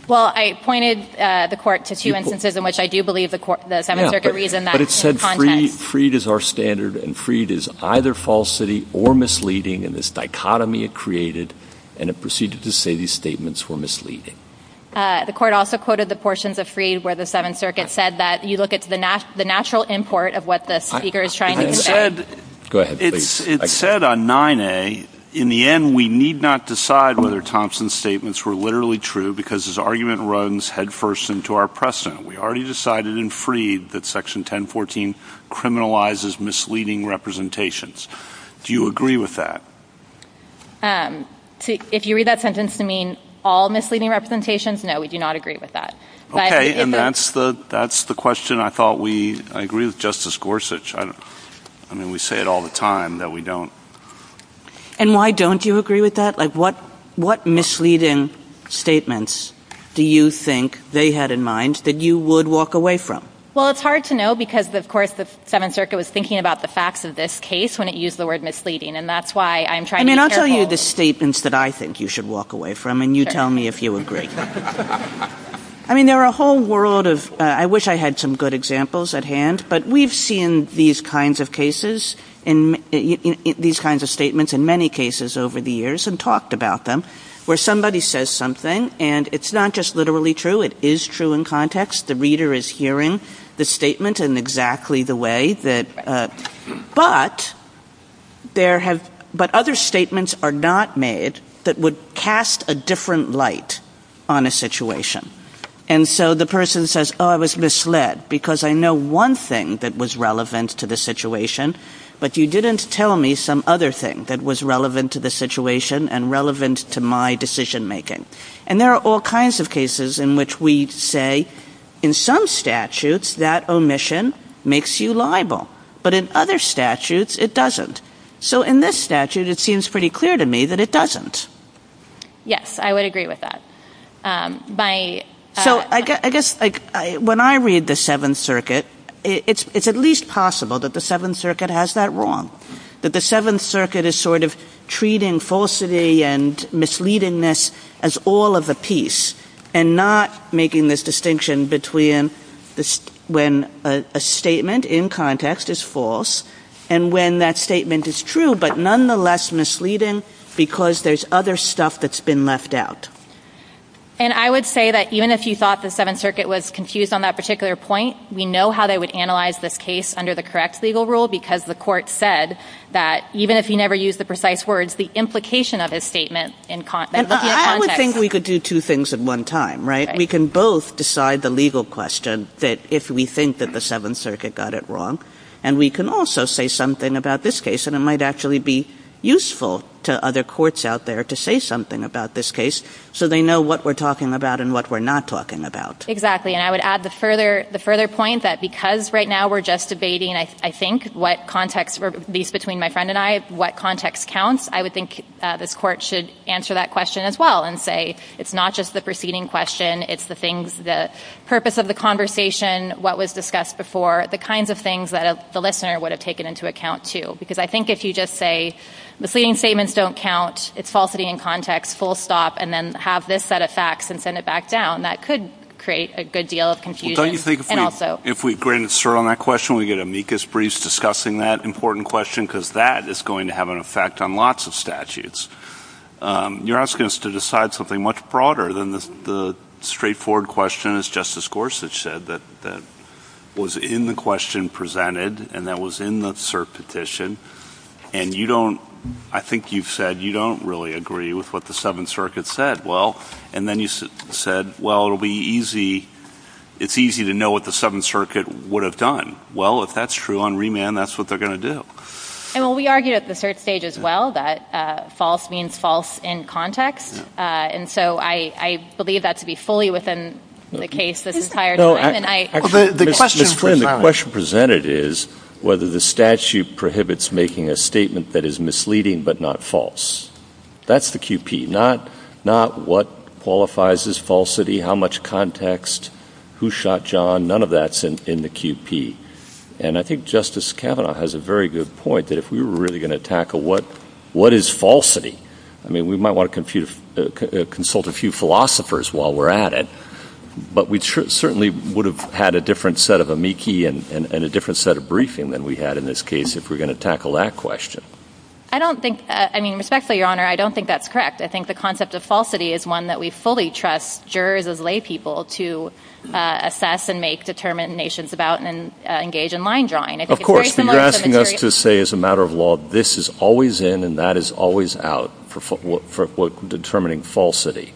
Well, I pointed the court to two instances in which I do believe the Seventh Circuit reasoned that. But it said freed is our standard, and freed is either falsity or misleading, and this dichotomy it created, and it proceeded to say these statements were misleading. The court also quoted the portions of freed where the Seventh Circuit said that. You look at the natural import of what the speaker is trying to say. It said on 9A, in the end, we need not decide whether Thompson's statements were literally true because his argument runs headfirst into our precedent. We already decided in freed that Section 1014 criminalizes misleading representations. Do you agree with that? If you read that sentence to mean all misleading representations, no, we do not agree with that. Okay, and that's the question I thought we – I agree with Justice Gorsuch. I mean, we say it all the time that we don't. And why don't you agree with that? Like, what misleading statements do you think they had in mind that you would walk away from? Well, it's hard to know because, of course, the Seventh Circuit was thinking about the facts of this case when it used the word misleading, and that's why I'm trying to be careful. I mean, I'll tell you the statements that I think you should walk away from, and you tell me if you agree. I mean, there are a whole world of – I wish I had some good examples at hand, but we've seen these kinds of cases – these kinds of statements in many cases over the years and talked about them where somebody says something, and it's not just literally true. It is true in context. The reader is hearing the statement in exactly the way that – but there have – but other statements are not made that would cast a different light on a situation. And so the person says, oh, I was misled because I know one thing that was relevant to the situation, but you didn't tell me some other thing that was relevant to the situation and relevant to my decision-making. And there are all kinds of cases in which we say, in some statutes, that omission makes you liable, but in other statutes, it doesn't. So in this statute, it seems pretty clear to me that it doesn't. Yes, I would agree with that. So I guess when I read the Seventh Circuit, it's at least possible that the Seventh Circuit has that wrong, that the Seventh Circuit is sort of treating falsity and misleadingness as all of the piece and not making this distinction between when a statement in context is false and when that statement is true but nonetheless misleading because there's other stuff that's been left out. And I would say that even if you thought the Seventh Circuit was confused on that particular point, we know how they would analyze this case under the correct legal rule because the court said that, even if you never use the precise words, the implication of his statement in – I would think we could do two things at one time, right? We can both decide the legal question that if we think that the Seventh Circuit got it wrong and we can also say something about this case. And it might actually be useful to other courts out there to say something about this case so they know what we're talking about and what we're not talking about. Exactly. And I would add the further point that because right now we're just debating, I think, what context – at least between my friend and I – what context counts, I would think this court should answer that question as well and say it's not just the preceding question, it's the things – the purpose of the conversation, what was discussed before, the kinds of things that the listener would have taken into account, too. Because I think if you just say the preceding statements don't count, it's falsity in context, full stop, and then have this set of facts and send it back down, that could create a good deal of confusion. Well, don't you think if we grant a cert on that question, we get amicus briefs discussing that important question because that is going to have an effect on lots of statutes. You're asking us to decide something much broader than the straightforward question, as Justice Gorsuch said, that was in the question presented and that was in the cert petition, and you don't – I think you've said you don't really agree with what the Seventh Circuit said. Well – and then you said, well, it'll be easy – it's easy to know what the Seventh Circuit would have done. Well, if that's true on remand, that's what they're going to do. And we argued at the cert stage as well that false means false in context, and so I believe that to be fully within the case that's entired. The question presented is whether the statute prohibits making a statement that is misleading but not false. That's the QP, not what qualifies as falsity, how much context, who shot John. None of that's in the QP. And I think Justice Kavanaugh has a very good point that if we were really going to tackle what is falsity, I mean, we might want to consult a few philosophers while we're at it, but we certainly would have had a different set of amici and a different set of briefing than we had in this case if we were going to tackle that question. I don't think – I mean, respectfully, Your Honor, I don't think that's correct. I think the concept of falsity is one that we fully trust jurors as laypeople to assess and make determinations about and engage in line drawing. Of course. You're asking us to say as a matter of law this is always in and that is always out for determining falsity,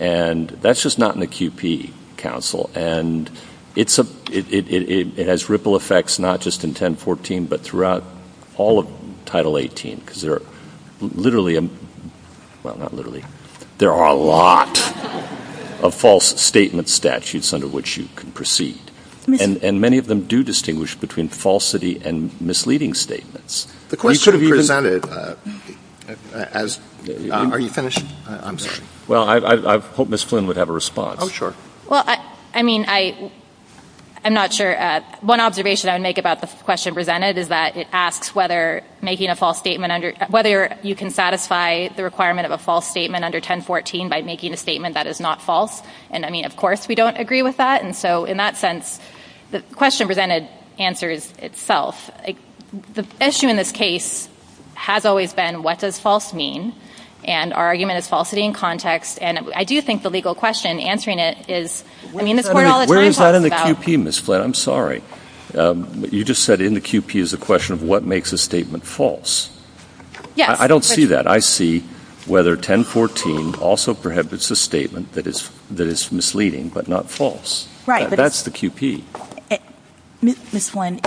and that's just not in the QP, counsel, and it has ripple effects not just in 1014 but throughout all of Title 18 because there are literally – well, not literally. There are a lot of false statement statutes under which you can proceed, and many of them do distinguish between falsity and misleading statements. The question presented as – are you going to – I'm sorry. Well, I hope Ms. Flynn would have a response. Oh, sure. Well, I mean, I'm not sure. One observation I would make about the question presented is that it asks whether making a false statement under – whether you can satisfy the requirement of a false statement under 1014 by making a statement that is not false, and, I mean, of course we don't agree with that. And so in that sense, the question presented answers itself. The issue in this case has always been what does false mean, and our argument is falsity in context, and I do think the legal question answering it is – I mean, if we're all – Where is that in the QP, Ms. Flynn? I'm sorry. You just said in the QP is a question of what makes a statement false. Yes. I don't see that. I see whether 1014 also prohibits a statement that is misleading but not false. Right. That's the QP. Ms. Flynn,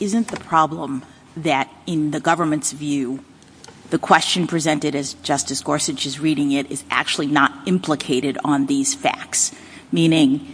isn't the problem that in the government's view the question presented, as Justice Gorsuch is reading it, is actually not implicated on these facts, meaning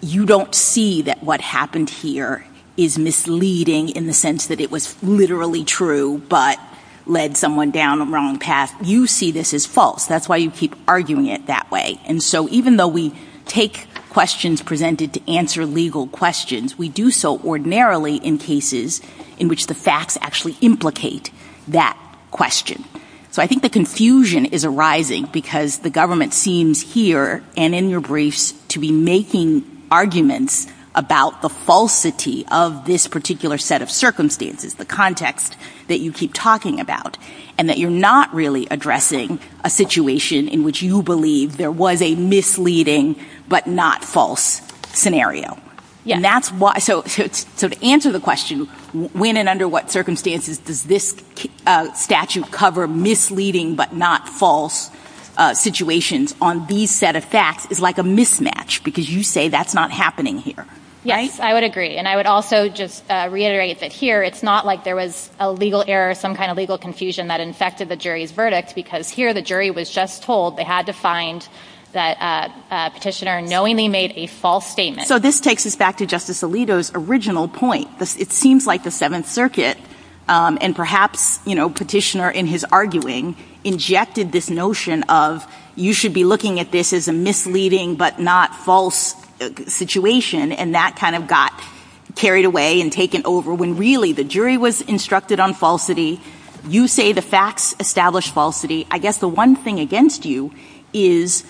you don't see that what happened here is misleading in the sense that it was literally true but led someone down the wrong path. You see this as false. That's why you keep arguing it that way. And so even though we take questions presented to answer legal questions, we do so ordinarily in cases in which the facts actually implicate that question. So I think the confusion is arising because the government seems here and in your briefs to be making arguments about the falsity of this particular set of circumstances, the context that you keep talking about, and that you're not really addressing a situation in which you believe there was a misleading but not false scenario. So to answer the question, when and under what circumstances does this statute cover misleading but not false situations on these set of facts is like a mismatch because you say that's not happening here. Yes, I would agree. And I would also just reiterate that here it's not like there was a legal error, some kind of legal confusion that infected the jury's verdict because here the jury was just told they had to find that Petitioner knowingly made a false statement. So this takes us back to Justice Alito's original point. It seems like the Seventh Circuit, and perhaps Petitioner in his arguing, injected this notion of you should be looking at this as a misleading but not false situation, and that kind of got carried away and taken over when really the jury was instructed on falsity. You say the facts establish falsity. I guess the one thing against you is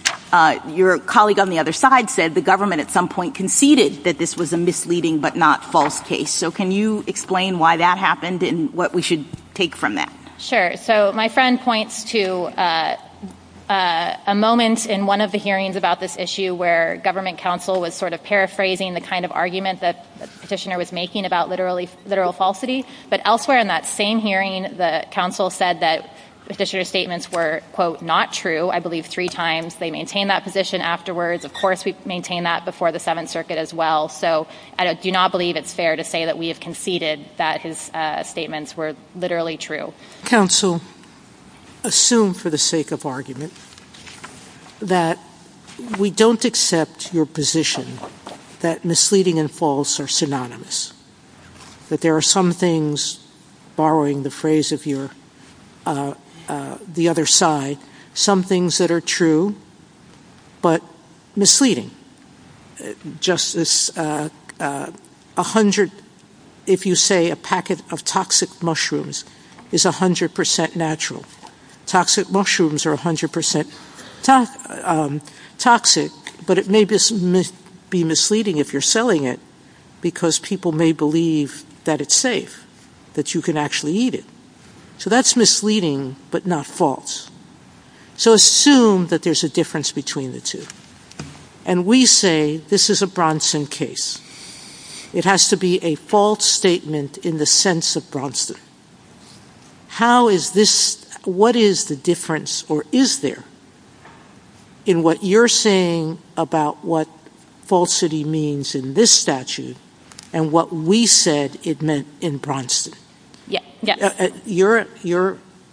your colleague on the other side said the government at some point conceded that this was a misleading but not false case. So can you explain why that happened and what we should take from that? Sure. So my friend points to a moment in one of the hearings about this issue where government counsel was sort of paraphrasing the kind of argument that Petitioner was making about literal falsity, but elsewhere in that same hearing the counsel said that Petitioner's statements were, quote, not true. I believe three times. They maintained that position afterwards. Of course we maintain that before the Seventh Circuit as well. So I do not believe it's fair to say that we have conceded that his statements were literally true. Counsel, assume for the sake of argument that we don't accept your position that misleading and false are synonymous, that there are some things, borrowing the phrase of the other side, some things that are true, but misleading, just as if you say a packet of toxic mushrooms is 100% natural. Toxic mushrooms are 100% toxic, but it may be misleading if you're selling it because people may believe that it's safe, that you can actually eat it. So that's misleading but not false. So assume that there's a difference between the two. And we say this is a Bronson case. It has to be a false statement in the sense of Bronson. What is the difference or is there in what you're saying about what falsity means in this statute and what we said it meant in Bronson?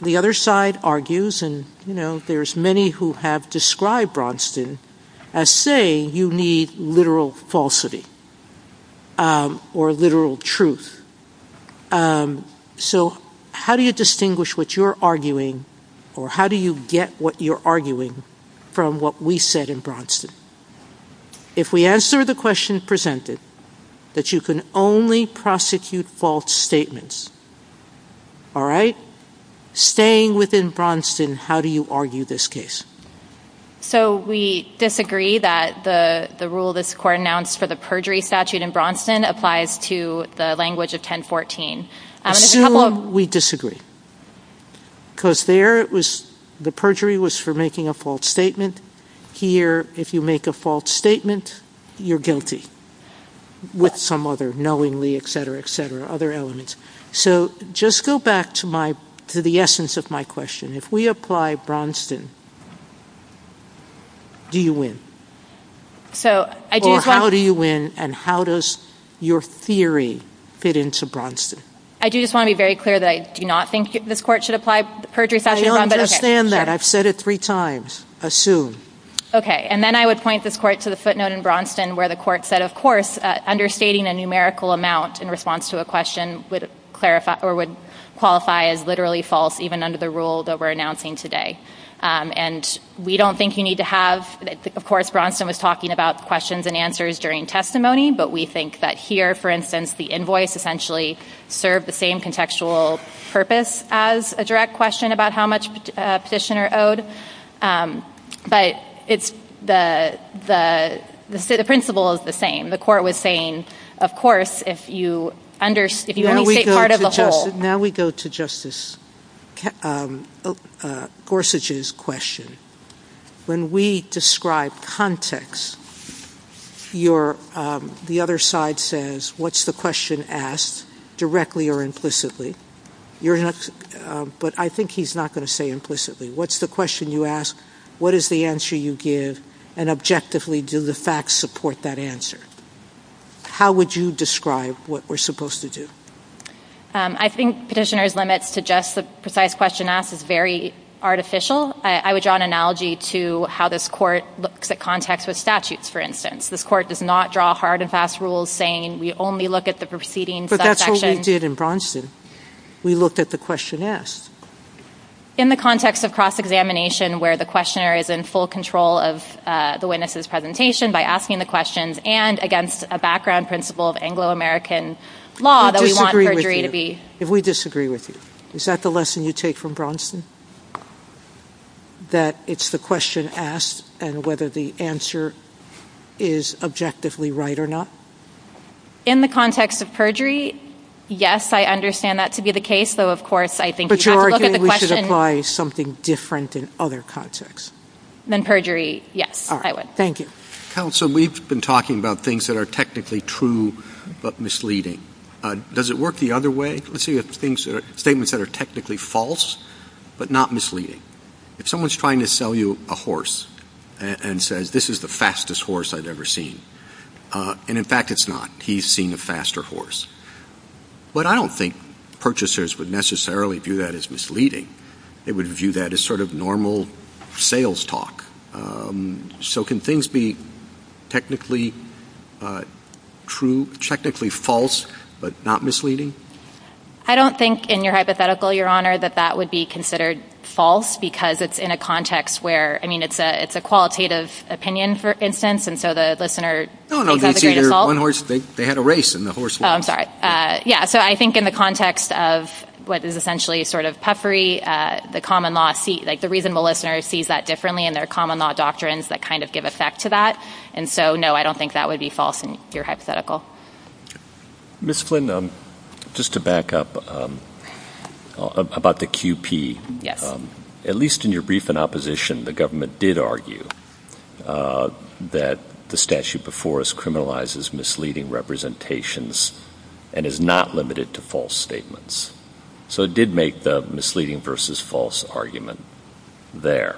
The other side argues, and there's many who have described Bronson as saying you need literal falsity or literal truth. So how do you distinguish what you're arguing or how do you get what you're arguing from what we said in Bronson? If we answer the question presented, that you can only prosecute false statements, all right? Staying within Bronson, how do you argue this case? So we disagree that the rule this court announced for the perjury statute in Bronson applies to the language of 1014. Assume we disagree because there the perjury was for making a false statement. Here if you make a false statement, you're guilty with some other knowingly, et cetera, et cetera, other elements. So just go back to the essence of my question. If we apply Bronson, do you win? Or how do you win and how does your theory fit into Bronson? I do just want to be very clear that I do not think this court should apply the perjury statute in Bronson. I understand that. I've said it three times. Assume. Okay. And then I would point this court to the footnote in Bronson where the court said, of course, understating a numerical amount in response to a question would qualify as literally false even under the rule that we're announcing today. And we don't think you need to have, of course, Bronson was talking about questions and answers during testimony, but we think that here, for instance, the invoice essentially served the same contextual purpose as a direct question about how much a petitioner owed, but the principle is the same. The court was saying, of course, if you understate part of the whole. Now we go to Justice Gorsuch's question. When we describe context, the other side says, what's the question asked directly or implicitly? But I think he's not going to say implicitly. What's the question you ask, what is the answer you give, and objectively do the facts support that answer? How would you describe what we're supposed to do? I think petitioner's limits to just the precise question asked is very artificial. I would draw an analogy to how this court looks at context of statutes, for instance. This court does not draw hard and fast rules saying we only look at the proceedings of that section. But that's what we did in Bronson. We looked at the question asked. In the context of cross-examination where the questioner is in full control of the witness's presentation by asking the question and against a background principle of Anglo-American law that we want perjury to be. If we disagree with you, is that the lesson you take from Bronson? That it's the question asked and whether the answer is objectively right or not? In the context of perjury, yes, I understand that to be the case. So, of course, I think we have to look at the question. But you're saying we should apply something different in other contexts. Then perjury, yes, I would. Thank you. Counsel, we've been talking about things that are technically true but misleading. Does it work the other way? Let's say you have statements that are technically false but not misleading. If someone's trying to sell you a horse and says this is the fastest horse I've ever seen. And, in fact, it's not. He's seen a faster horse. But I don't think purchasers would necessarily view that as misleading. They would view that as sort of normal sales talk. So can things be technically true, technically false, but not misleading? I don't think, in your hypothetical, Your Honor, that that would be considered false. Because it's in a context where, I mean, it's a qualitative opinion, for instance. And so the listener thinks that would be false. No, no, they had a race and the horse lost. Oh, I'm sorry. Yeah, so I think in the context of what is essentially sort of peppery, the common law, like the reason the listener sees that differently and there are common law doctrines that kind of give effect to that. And so, no, I don't think that would be false in your hypothetical. Ms. Flynn, just to back up about the QP. At least in your brief in opposition, the government did argue that the statute before us criminalizes misleading representations and is not limited to false statements. So it did make the misleading versus false argument there.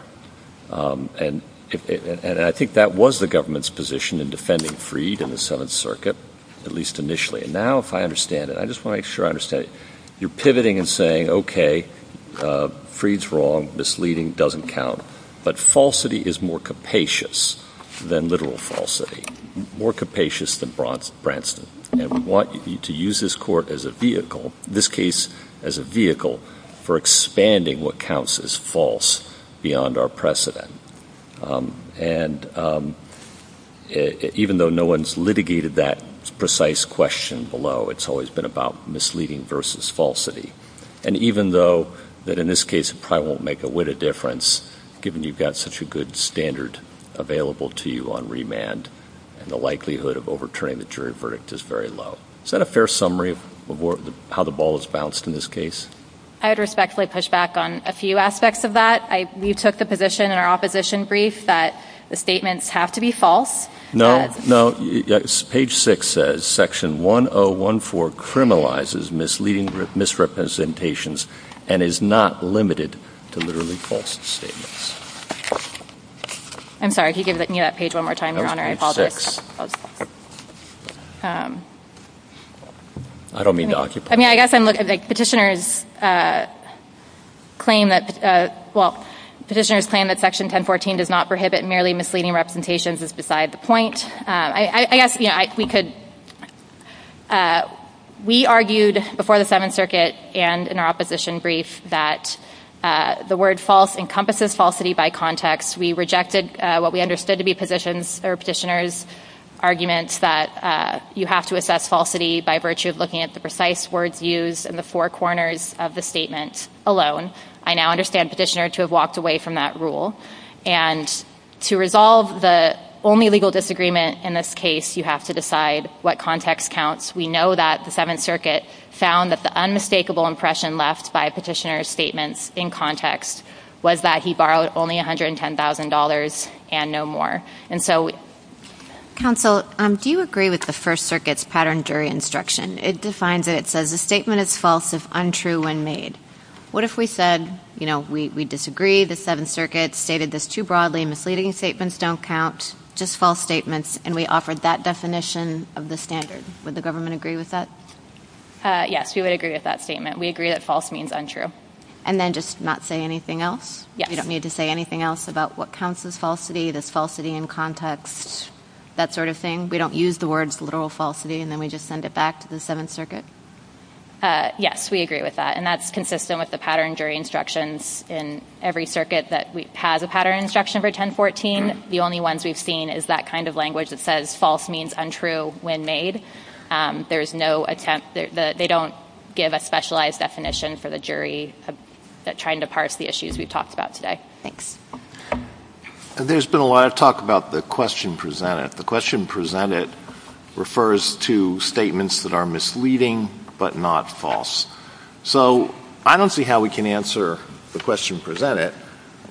And I think that was the government's position in defending Freed in the Seventh Circuit, at least initially. And now if I understand it, I just want to make sure I understand it. You're pivoting and saying, okay, Freed's wrong, misleading doesn't count. But falsity is more capacious than literal falsity. More capacious than Branstad. And we want to use this court as a vehicle, in this case as a vehicle, for expanding what counts as false beyond our precedent. And even though no one's litigated that precise question below, it's always been about misleading versus falsity. And even though that in this case it probably won't make a whit of difference, given you've got such a good standard available to you on remand and the likelihood of overturning the jury verdict is very low. Is that a fair summary of how the ball has bounced in this case? I would respectfully push back on a few aspects of that. You took the position in our opposition brief that the statements have to be false. No, no. Page 6 says Section 1014 criminalizes misleading misrepresentations and is not limited to literally false statements. I'm sorry, could you give me that page one more time, Your Honor? Page 6. I don't mean to occupy it. I guess I'm looking at the petitioner's claim that, well, the petitioner's claim that Section 1014 does not prohibit merely misleading representations is beside the point. We argued before the Seventh Circuit and in our opposition brief that the word false encompasses falsity by context. We rejected what we understood to be petitioner's argument that you have to assess falsity by virtue of looking at the precise words used in the four corners of the statement alone. I now understand petitioner to have walked away from that rule. And to resolve the only legal disagreement in this case, you have to decide what context counts. We know that the Seventh Circuit found that the unmistakable impression left by petitioner's statements in context was that he borrowed only $110,000 and no more. Counsel, do you agree with the First Circuit's pattern during instruction? It defines it. It says the statement is false if untrue when made. What if we said, you know, we disagree, the Seventh Circuit stated this too broadly, misleading statements don't count, just false statements, and we offered that definition of the standard? Would the government agree with that? Yes, we would agree with that statement. We agree that false means untrue. And then just not say anything else? Yes. You don't need to say anything else about what counts as falsity, does falsity in context, that sort of thing? We don't use the words literal falsity and then we just send it back to the Seventh Circuit? Yes, we agree with that. And that's consistent with the pattern during instructions in every circuit that has a pattern instruction for 1014. The only ones we've seen is that kind of language that says false means untrue when made. There's no attempt, they don't give a specialized definition for the jury trying to parse the issues we talked about today. Thanks. There's been a lot of talk about the question presented. The question presented refers to statements that are misleading but not false. So I don't see how we can answer the question presented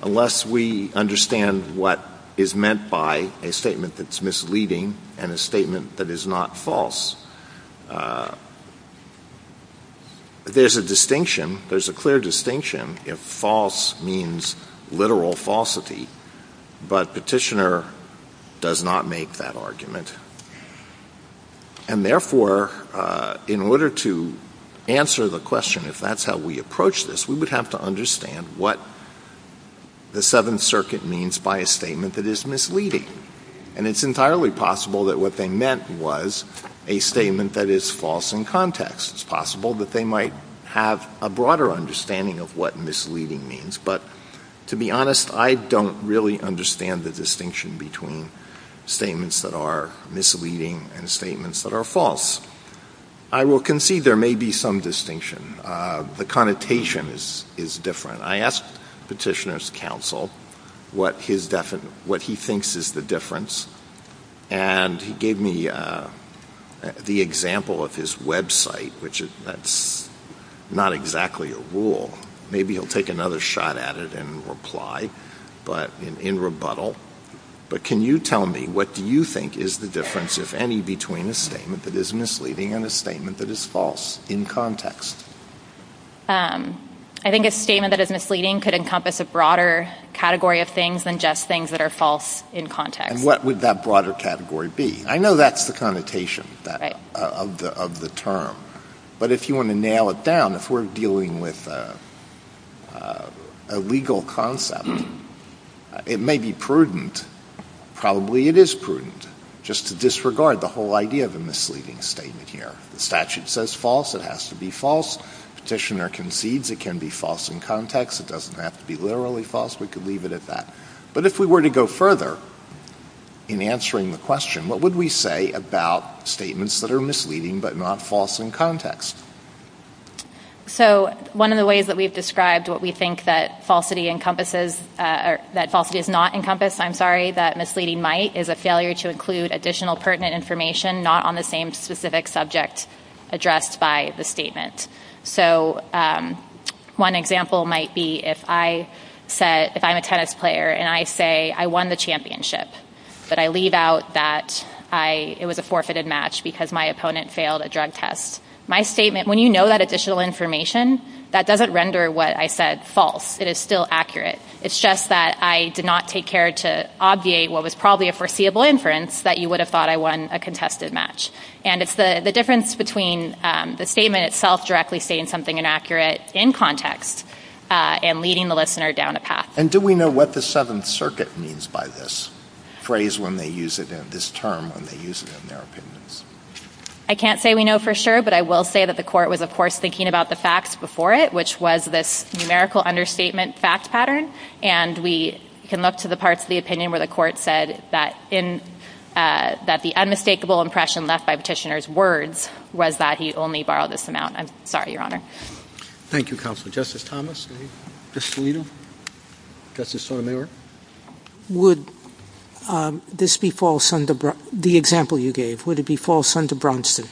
unless we understand what is meant by a statement that's misleading and a statement that is not false. There's a distinction, there's a clear distinction if false means literal falsity, but Petitioner does not make that argument. And therefore, in order to answer the question if that's how we approach this, we would have to understand what the Seventh Circuit means by a statement that is misleading. And it's entirely possible that what they meant was a statement that is false in context. It's possible that they might have a broader understanding of what misleading means, but to be honest, I don't really understand the distinction between statements that are misleading and statements that are false. I will concede there may be some distinction. The connotation is different. I asked Petitioner's counsel what he thinks is the difference, and he gave me the example of his website, which is not exactly a rule. Maybe he'll take another shot at it and reply, but in rebuttal. But can you tell me what do you think is the difference, if any, between a statement that is misleading and a statement that is false in context? I think a statement that is misleading could encompass a broader category of things than just things that are false in context. And what would that broader category be? I know that's the connotation of the term, but if you want to nail it down, if we're dealing with a legal concept, it may be prudent, probably it is prudent, just to disregard the whole idea of a misleading statement here. The statute says false. It has to be false. Petitioner concedes it can be false in context. It doesn't have to be literally false. We could leave it at that. But if we were to go further in answering the question, what would we say about statements that are misleading but not false in context? One of the ways that we've described what we think that falsity is not encompassed, I'm sorry, that misleading might, is a failure to include additional pertinent information not on the same specific subject addressed by the statement. One example might be if I'm a tennis player and I say I won the championship, but I leave out that it was a forfeited match because my opponent failed a drug test. My statement, when you know that additional information, that doesn't render what I said false. It is still accurate. It's just that I did not take care to obviate what was probably a foreseeable inference that you would have thought I won a contested match. And it's the difference between the statement itself directly saying something inaccurate in context and leading the listener down a path. And do we know what the Seventh Circuit means by this phrase when they use it, this term when they use it in their opinions? I can't say we know for sure, but I will say that the court was, of course, thinking about the facts before it, which was this numerical understatement fact pattern. And we can look to the parts of the opinion where the court said that the unmistakable impression left by Petitioner's words was that he only borrowed this amount. I'm sorry, Your Honor. Thank you, Counselor. Justice Thomas, Justice Alito, Justice O'Neill. Would this be false under the example you gave? Would it be false under Braunston?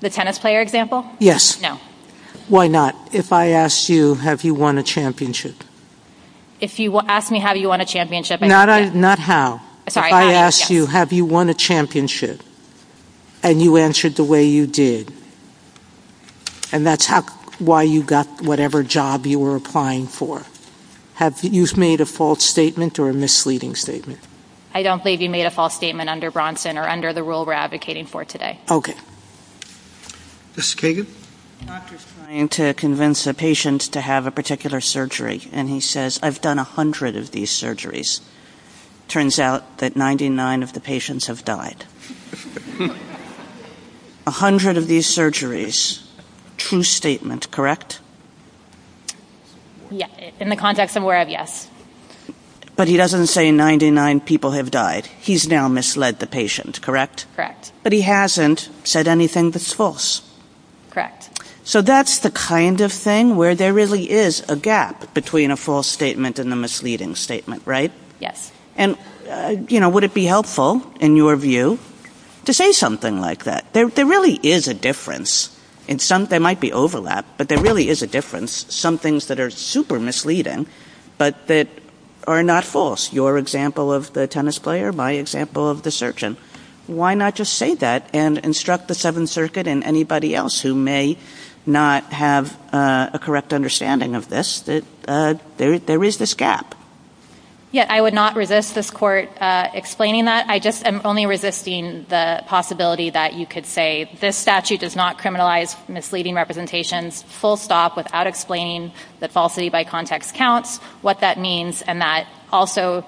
The tennis player example? Yes. No. Why not? If I asked you, have you won a championship? If you asked me, have you won a championship? Not how. If I asked you, have you won a championship, and you answered the way you did, and that's why you got whatever job you were applying for, have you made a false statement or a misleading statement? I don't believe you made a false statement under Braunston or under the rule we're advocating for today. Okay. Justice Kagan? The doctor's trying to convince a patient to have a particular surgery, and he says, I've done 100 of these surgeries. It turns out that 99 of the patients have died. 100 of these surgeries. True statement, correct? Yes. In the context of where of, yes. But he doesn't say 99 people have died. He's now misled the patient, correct? Correct. But he hasn't said anything that's false. Correct. So that's the kind of thing where there really is a gap between a false statement and a misleading statement, right? Yes. And, you know, would it be helpful, in your view, to say something like that? There really is a difference. There might be overlap, but there really is a difference. Some things that are super misleading but that are not false. Your example of the tennis player, my example of the surgeon. Why not just say that and instruct the Seventh Circuit and anybody else who may not have a correct understanding of this that there is this gap? Yeah, I would not resist this court explaining that. I just am only resisting the possibility that you could say this statute does not criminalize misleading representations, full stop, without explaining that falsity by context counts, what that means, and that also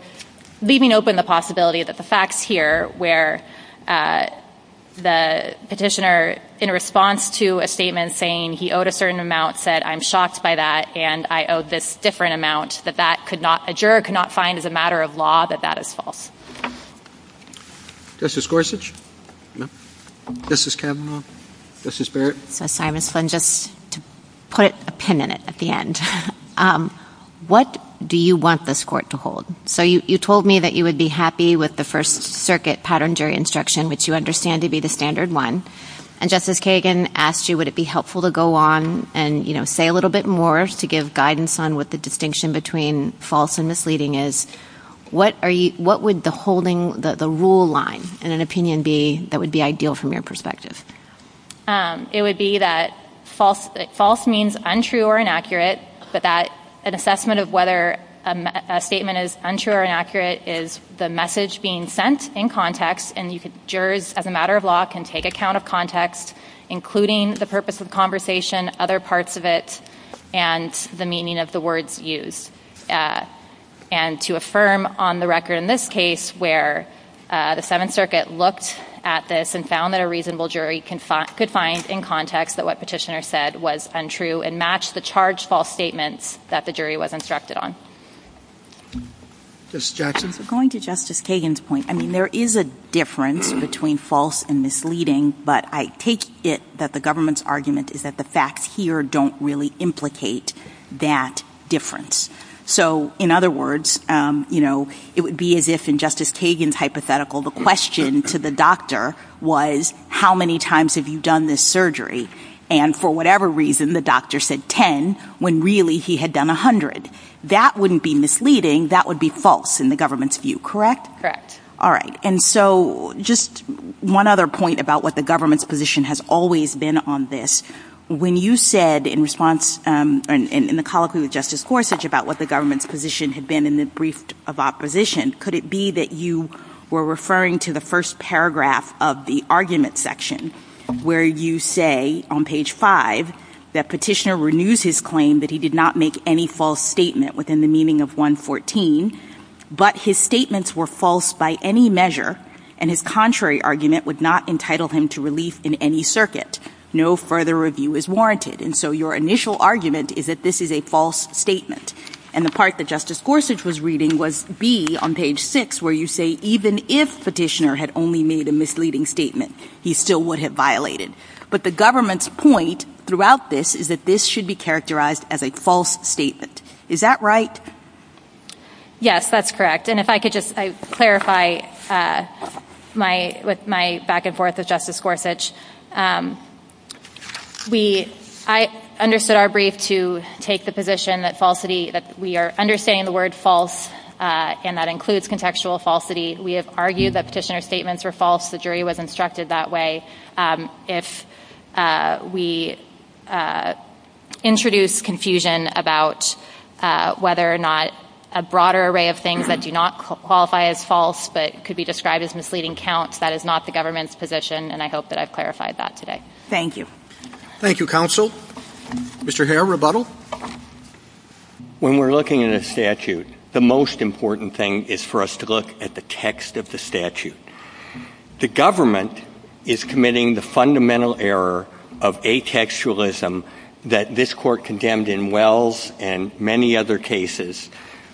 leaving open the possibility that the facts here where the petitioner, in response to a statement, saying he owed a certain amount, said I'm shocked by that and I owe this different amount that a juror could not find as a matter of law that that is false. Justice Gorsuch? No. Justice Kavanaugh? Justice Barrett? Yes, I'm just going to put a pin in it at the end. What do you want this court to hold? So you told me that you would be happy with the First Circuit pattern jury instruction, which you understand to be the standard one, and Justice Kagan asked you would it be helpful to go on and say a little bit more to give guidance on what the distinction between false and misleading is. What would the rule line in an opinion be that would be ideal from your perspective? It would be that false means untrue or inaccurate, but that an assessment of whether a statement is untrue or inaccurate is the message being sent in context, and jurors, as a matter of law, can take account of context, including the purpose of conversation, other parts of it, and the meaning of the words used. And to affirm on the record in this case where the Seventh Circuit looked at this and found that a reasonable jury could find in context that what Petitioner said was untrue and match the charged false statement that the jury was instructed on. Justice Jackson? Going to Justice Kagan's point, I mean, there is a difference between false and misleading, but I take it that the government's argument is that the facts here don't really implicate that difference. So, in other words, you know, it would be as if in Justice Kagan's hypothetical, the question to the doctor was how many times have you done this surgery? And for whatever reason, the doctor said 10 when really he had done 100. That wouldn't be misleading. That would be false in the government's view, correct? All right. And so just one other point about what the government's position has always been on this. When you said in response in the colloquy with Justice Gorsuch about what the government's position had been in the brief of opposition, could it be that you were referring to the first paragraph of the argument section where you say on page 5 that Petitioner renews his claim that he did not make any false statement within the meaning of 114, but his statements were false by any measure and his contrary argument would not entitle him to release in any circuit. No further review is warranted. And so your initial argument is that this is a false statement. And the part that Justice Gorsuch was reading was B on page 6 where you say even if Petitioner had only made a misleading statement, he still would have violated. But the government's point throughout this is that this should be characterized as a false statement. Is that right? Yes, that's correct. And if I could just clarify my back and forth with Justice Gorsuch. I understood our brief to take the position that we are understanding the word false and that includes contextual falsity. We have argued that Petitioner's statements were false. The jury was instructed that way. If we introduce confusion about whether or not a broader array of things that do not qualify as false but could be described as misleading counts, that is not the government's position, and I hope that I've clarified that today. Thank you. Thank you, Counsel. Mr. Hare, rebuttal. When we're looking at a statute, the most important thing is for us to look at the text of the statute. The government is committing the fundamental error of atextualism that this Court condemned in Wells and many other cases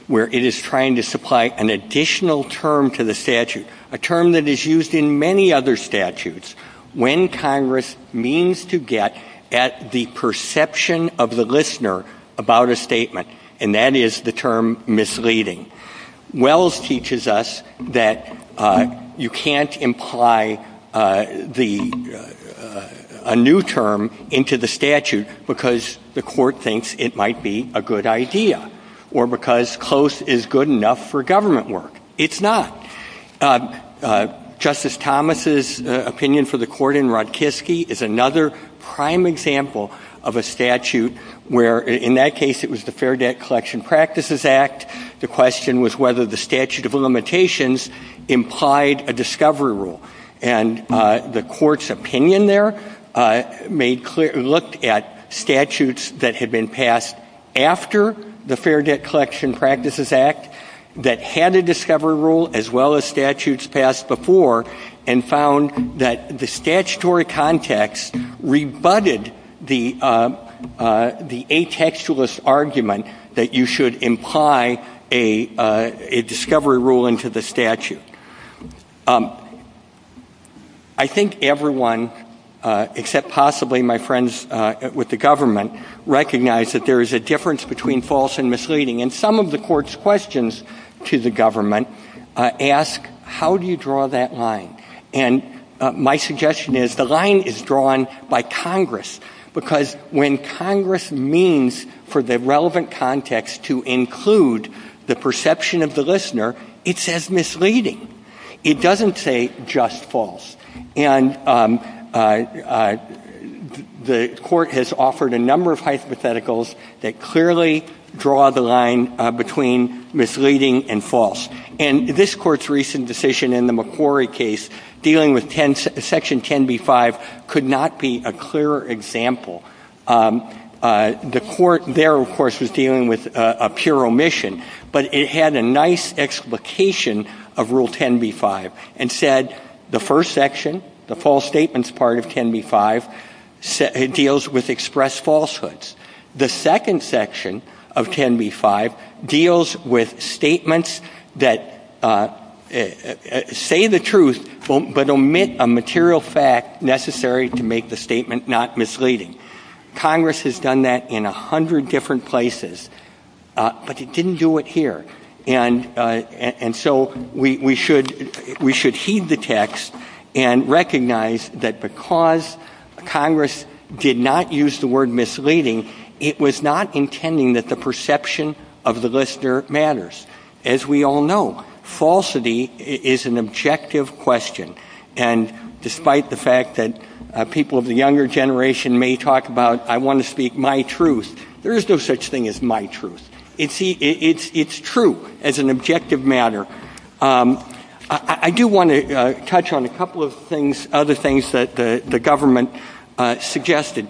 where it is trying to supply an additional term to the statute, a term that is used in many other statutes when Congress means to get at the perception of the listener about a statement, and that is the term misleading. Wells teaches us that you can't imply a new term into the statute because the Court thinks it might be a good idea or because close is good enough for government work. It's not. Justice Thomas's opinion for the Court in Rodkiski is another prime example of a statute where in that case it was the Fair Debt Collection Practices Act. The question was whether the statute of limitations implied a discovery rule, and the Court's opinion there looked at statutes that had been passed after the Fair Debt Collection Practices Act that had a discovery rule as well as statutes passed before and found that the statutory context rebutted the atextualist argument that you should imply a discovery rule into the statute. I think everyone, except possibly my friends with the government, recognize that there is a difference between false and misleading, and some of the Court's questions to the government ask, how do you draw that line? And my suggestion is the line is drawn by Congress because when Congress means for the relevant context to include the perception of the listener, it says misleading. It doesn't say just false. And the Court has offered a number of hypotheticals that clearly draw the line between misleading and false. And this Court's recent decision in the McQuarrie case dealing with Section 10b-5 could not be a clearer example. The Court there, of course, was dealing with a pure omission, but it had a nice explication of Rule 10b-5 and said the first section, the false statements part of 10b-5, deals with expressed falsehoods. The second section of 10b-5 deals with statements that say the truth but omit a material fact necessary to make the statement not misleading. Congress has done that in a hundred different places, but it didn't do it here. And so we should heed the text and recognize that because Congress did not use the word misleading, it was not intending that the perception of the listener matters. As we all know, falsity is an objective question. And despite the fact that people of the younger generation may talk about, I want to speak my truth, there is no such thing as my truth. It's true as an objective matter. I do want to touch on a couple of other things that the government suggested.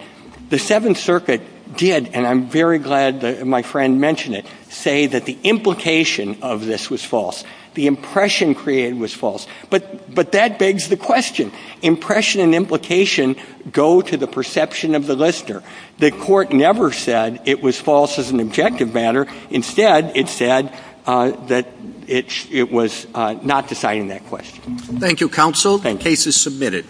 The Seventh Circuit did, and I'm very glad that my friend mentioned it, say that the implication of this was false. The impression created was false. But that begs the question. Impression and implication go to the perception of the listener. The Court never said it was false as an objective matter. Instead, it said that it was not deciding that question. Thank you, Counsel, and case is submitted.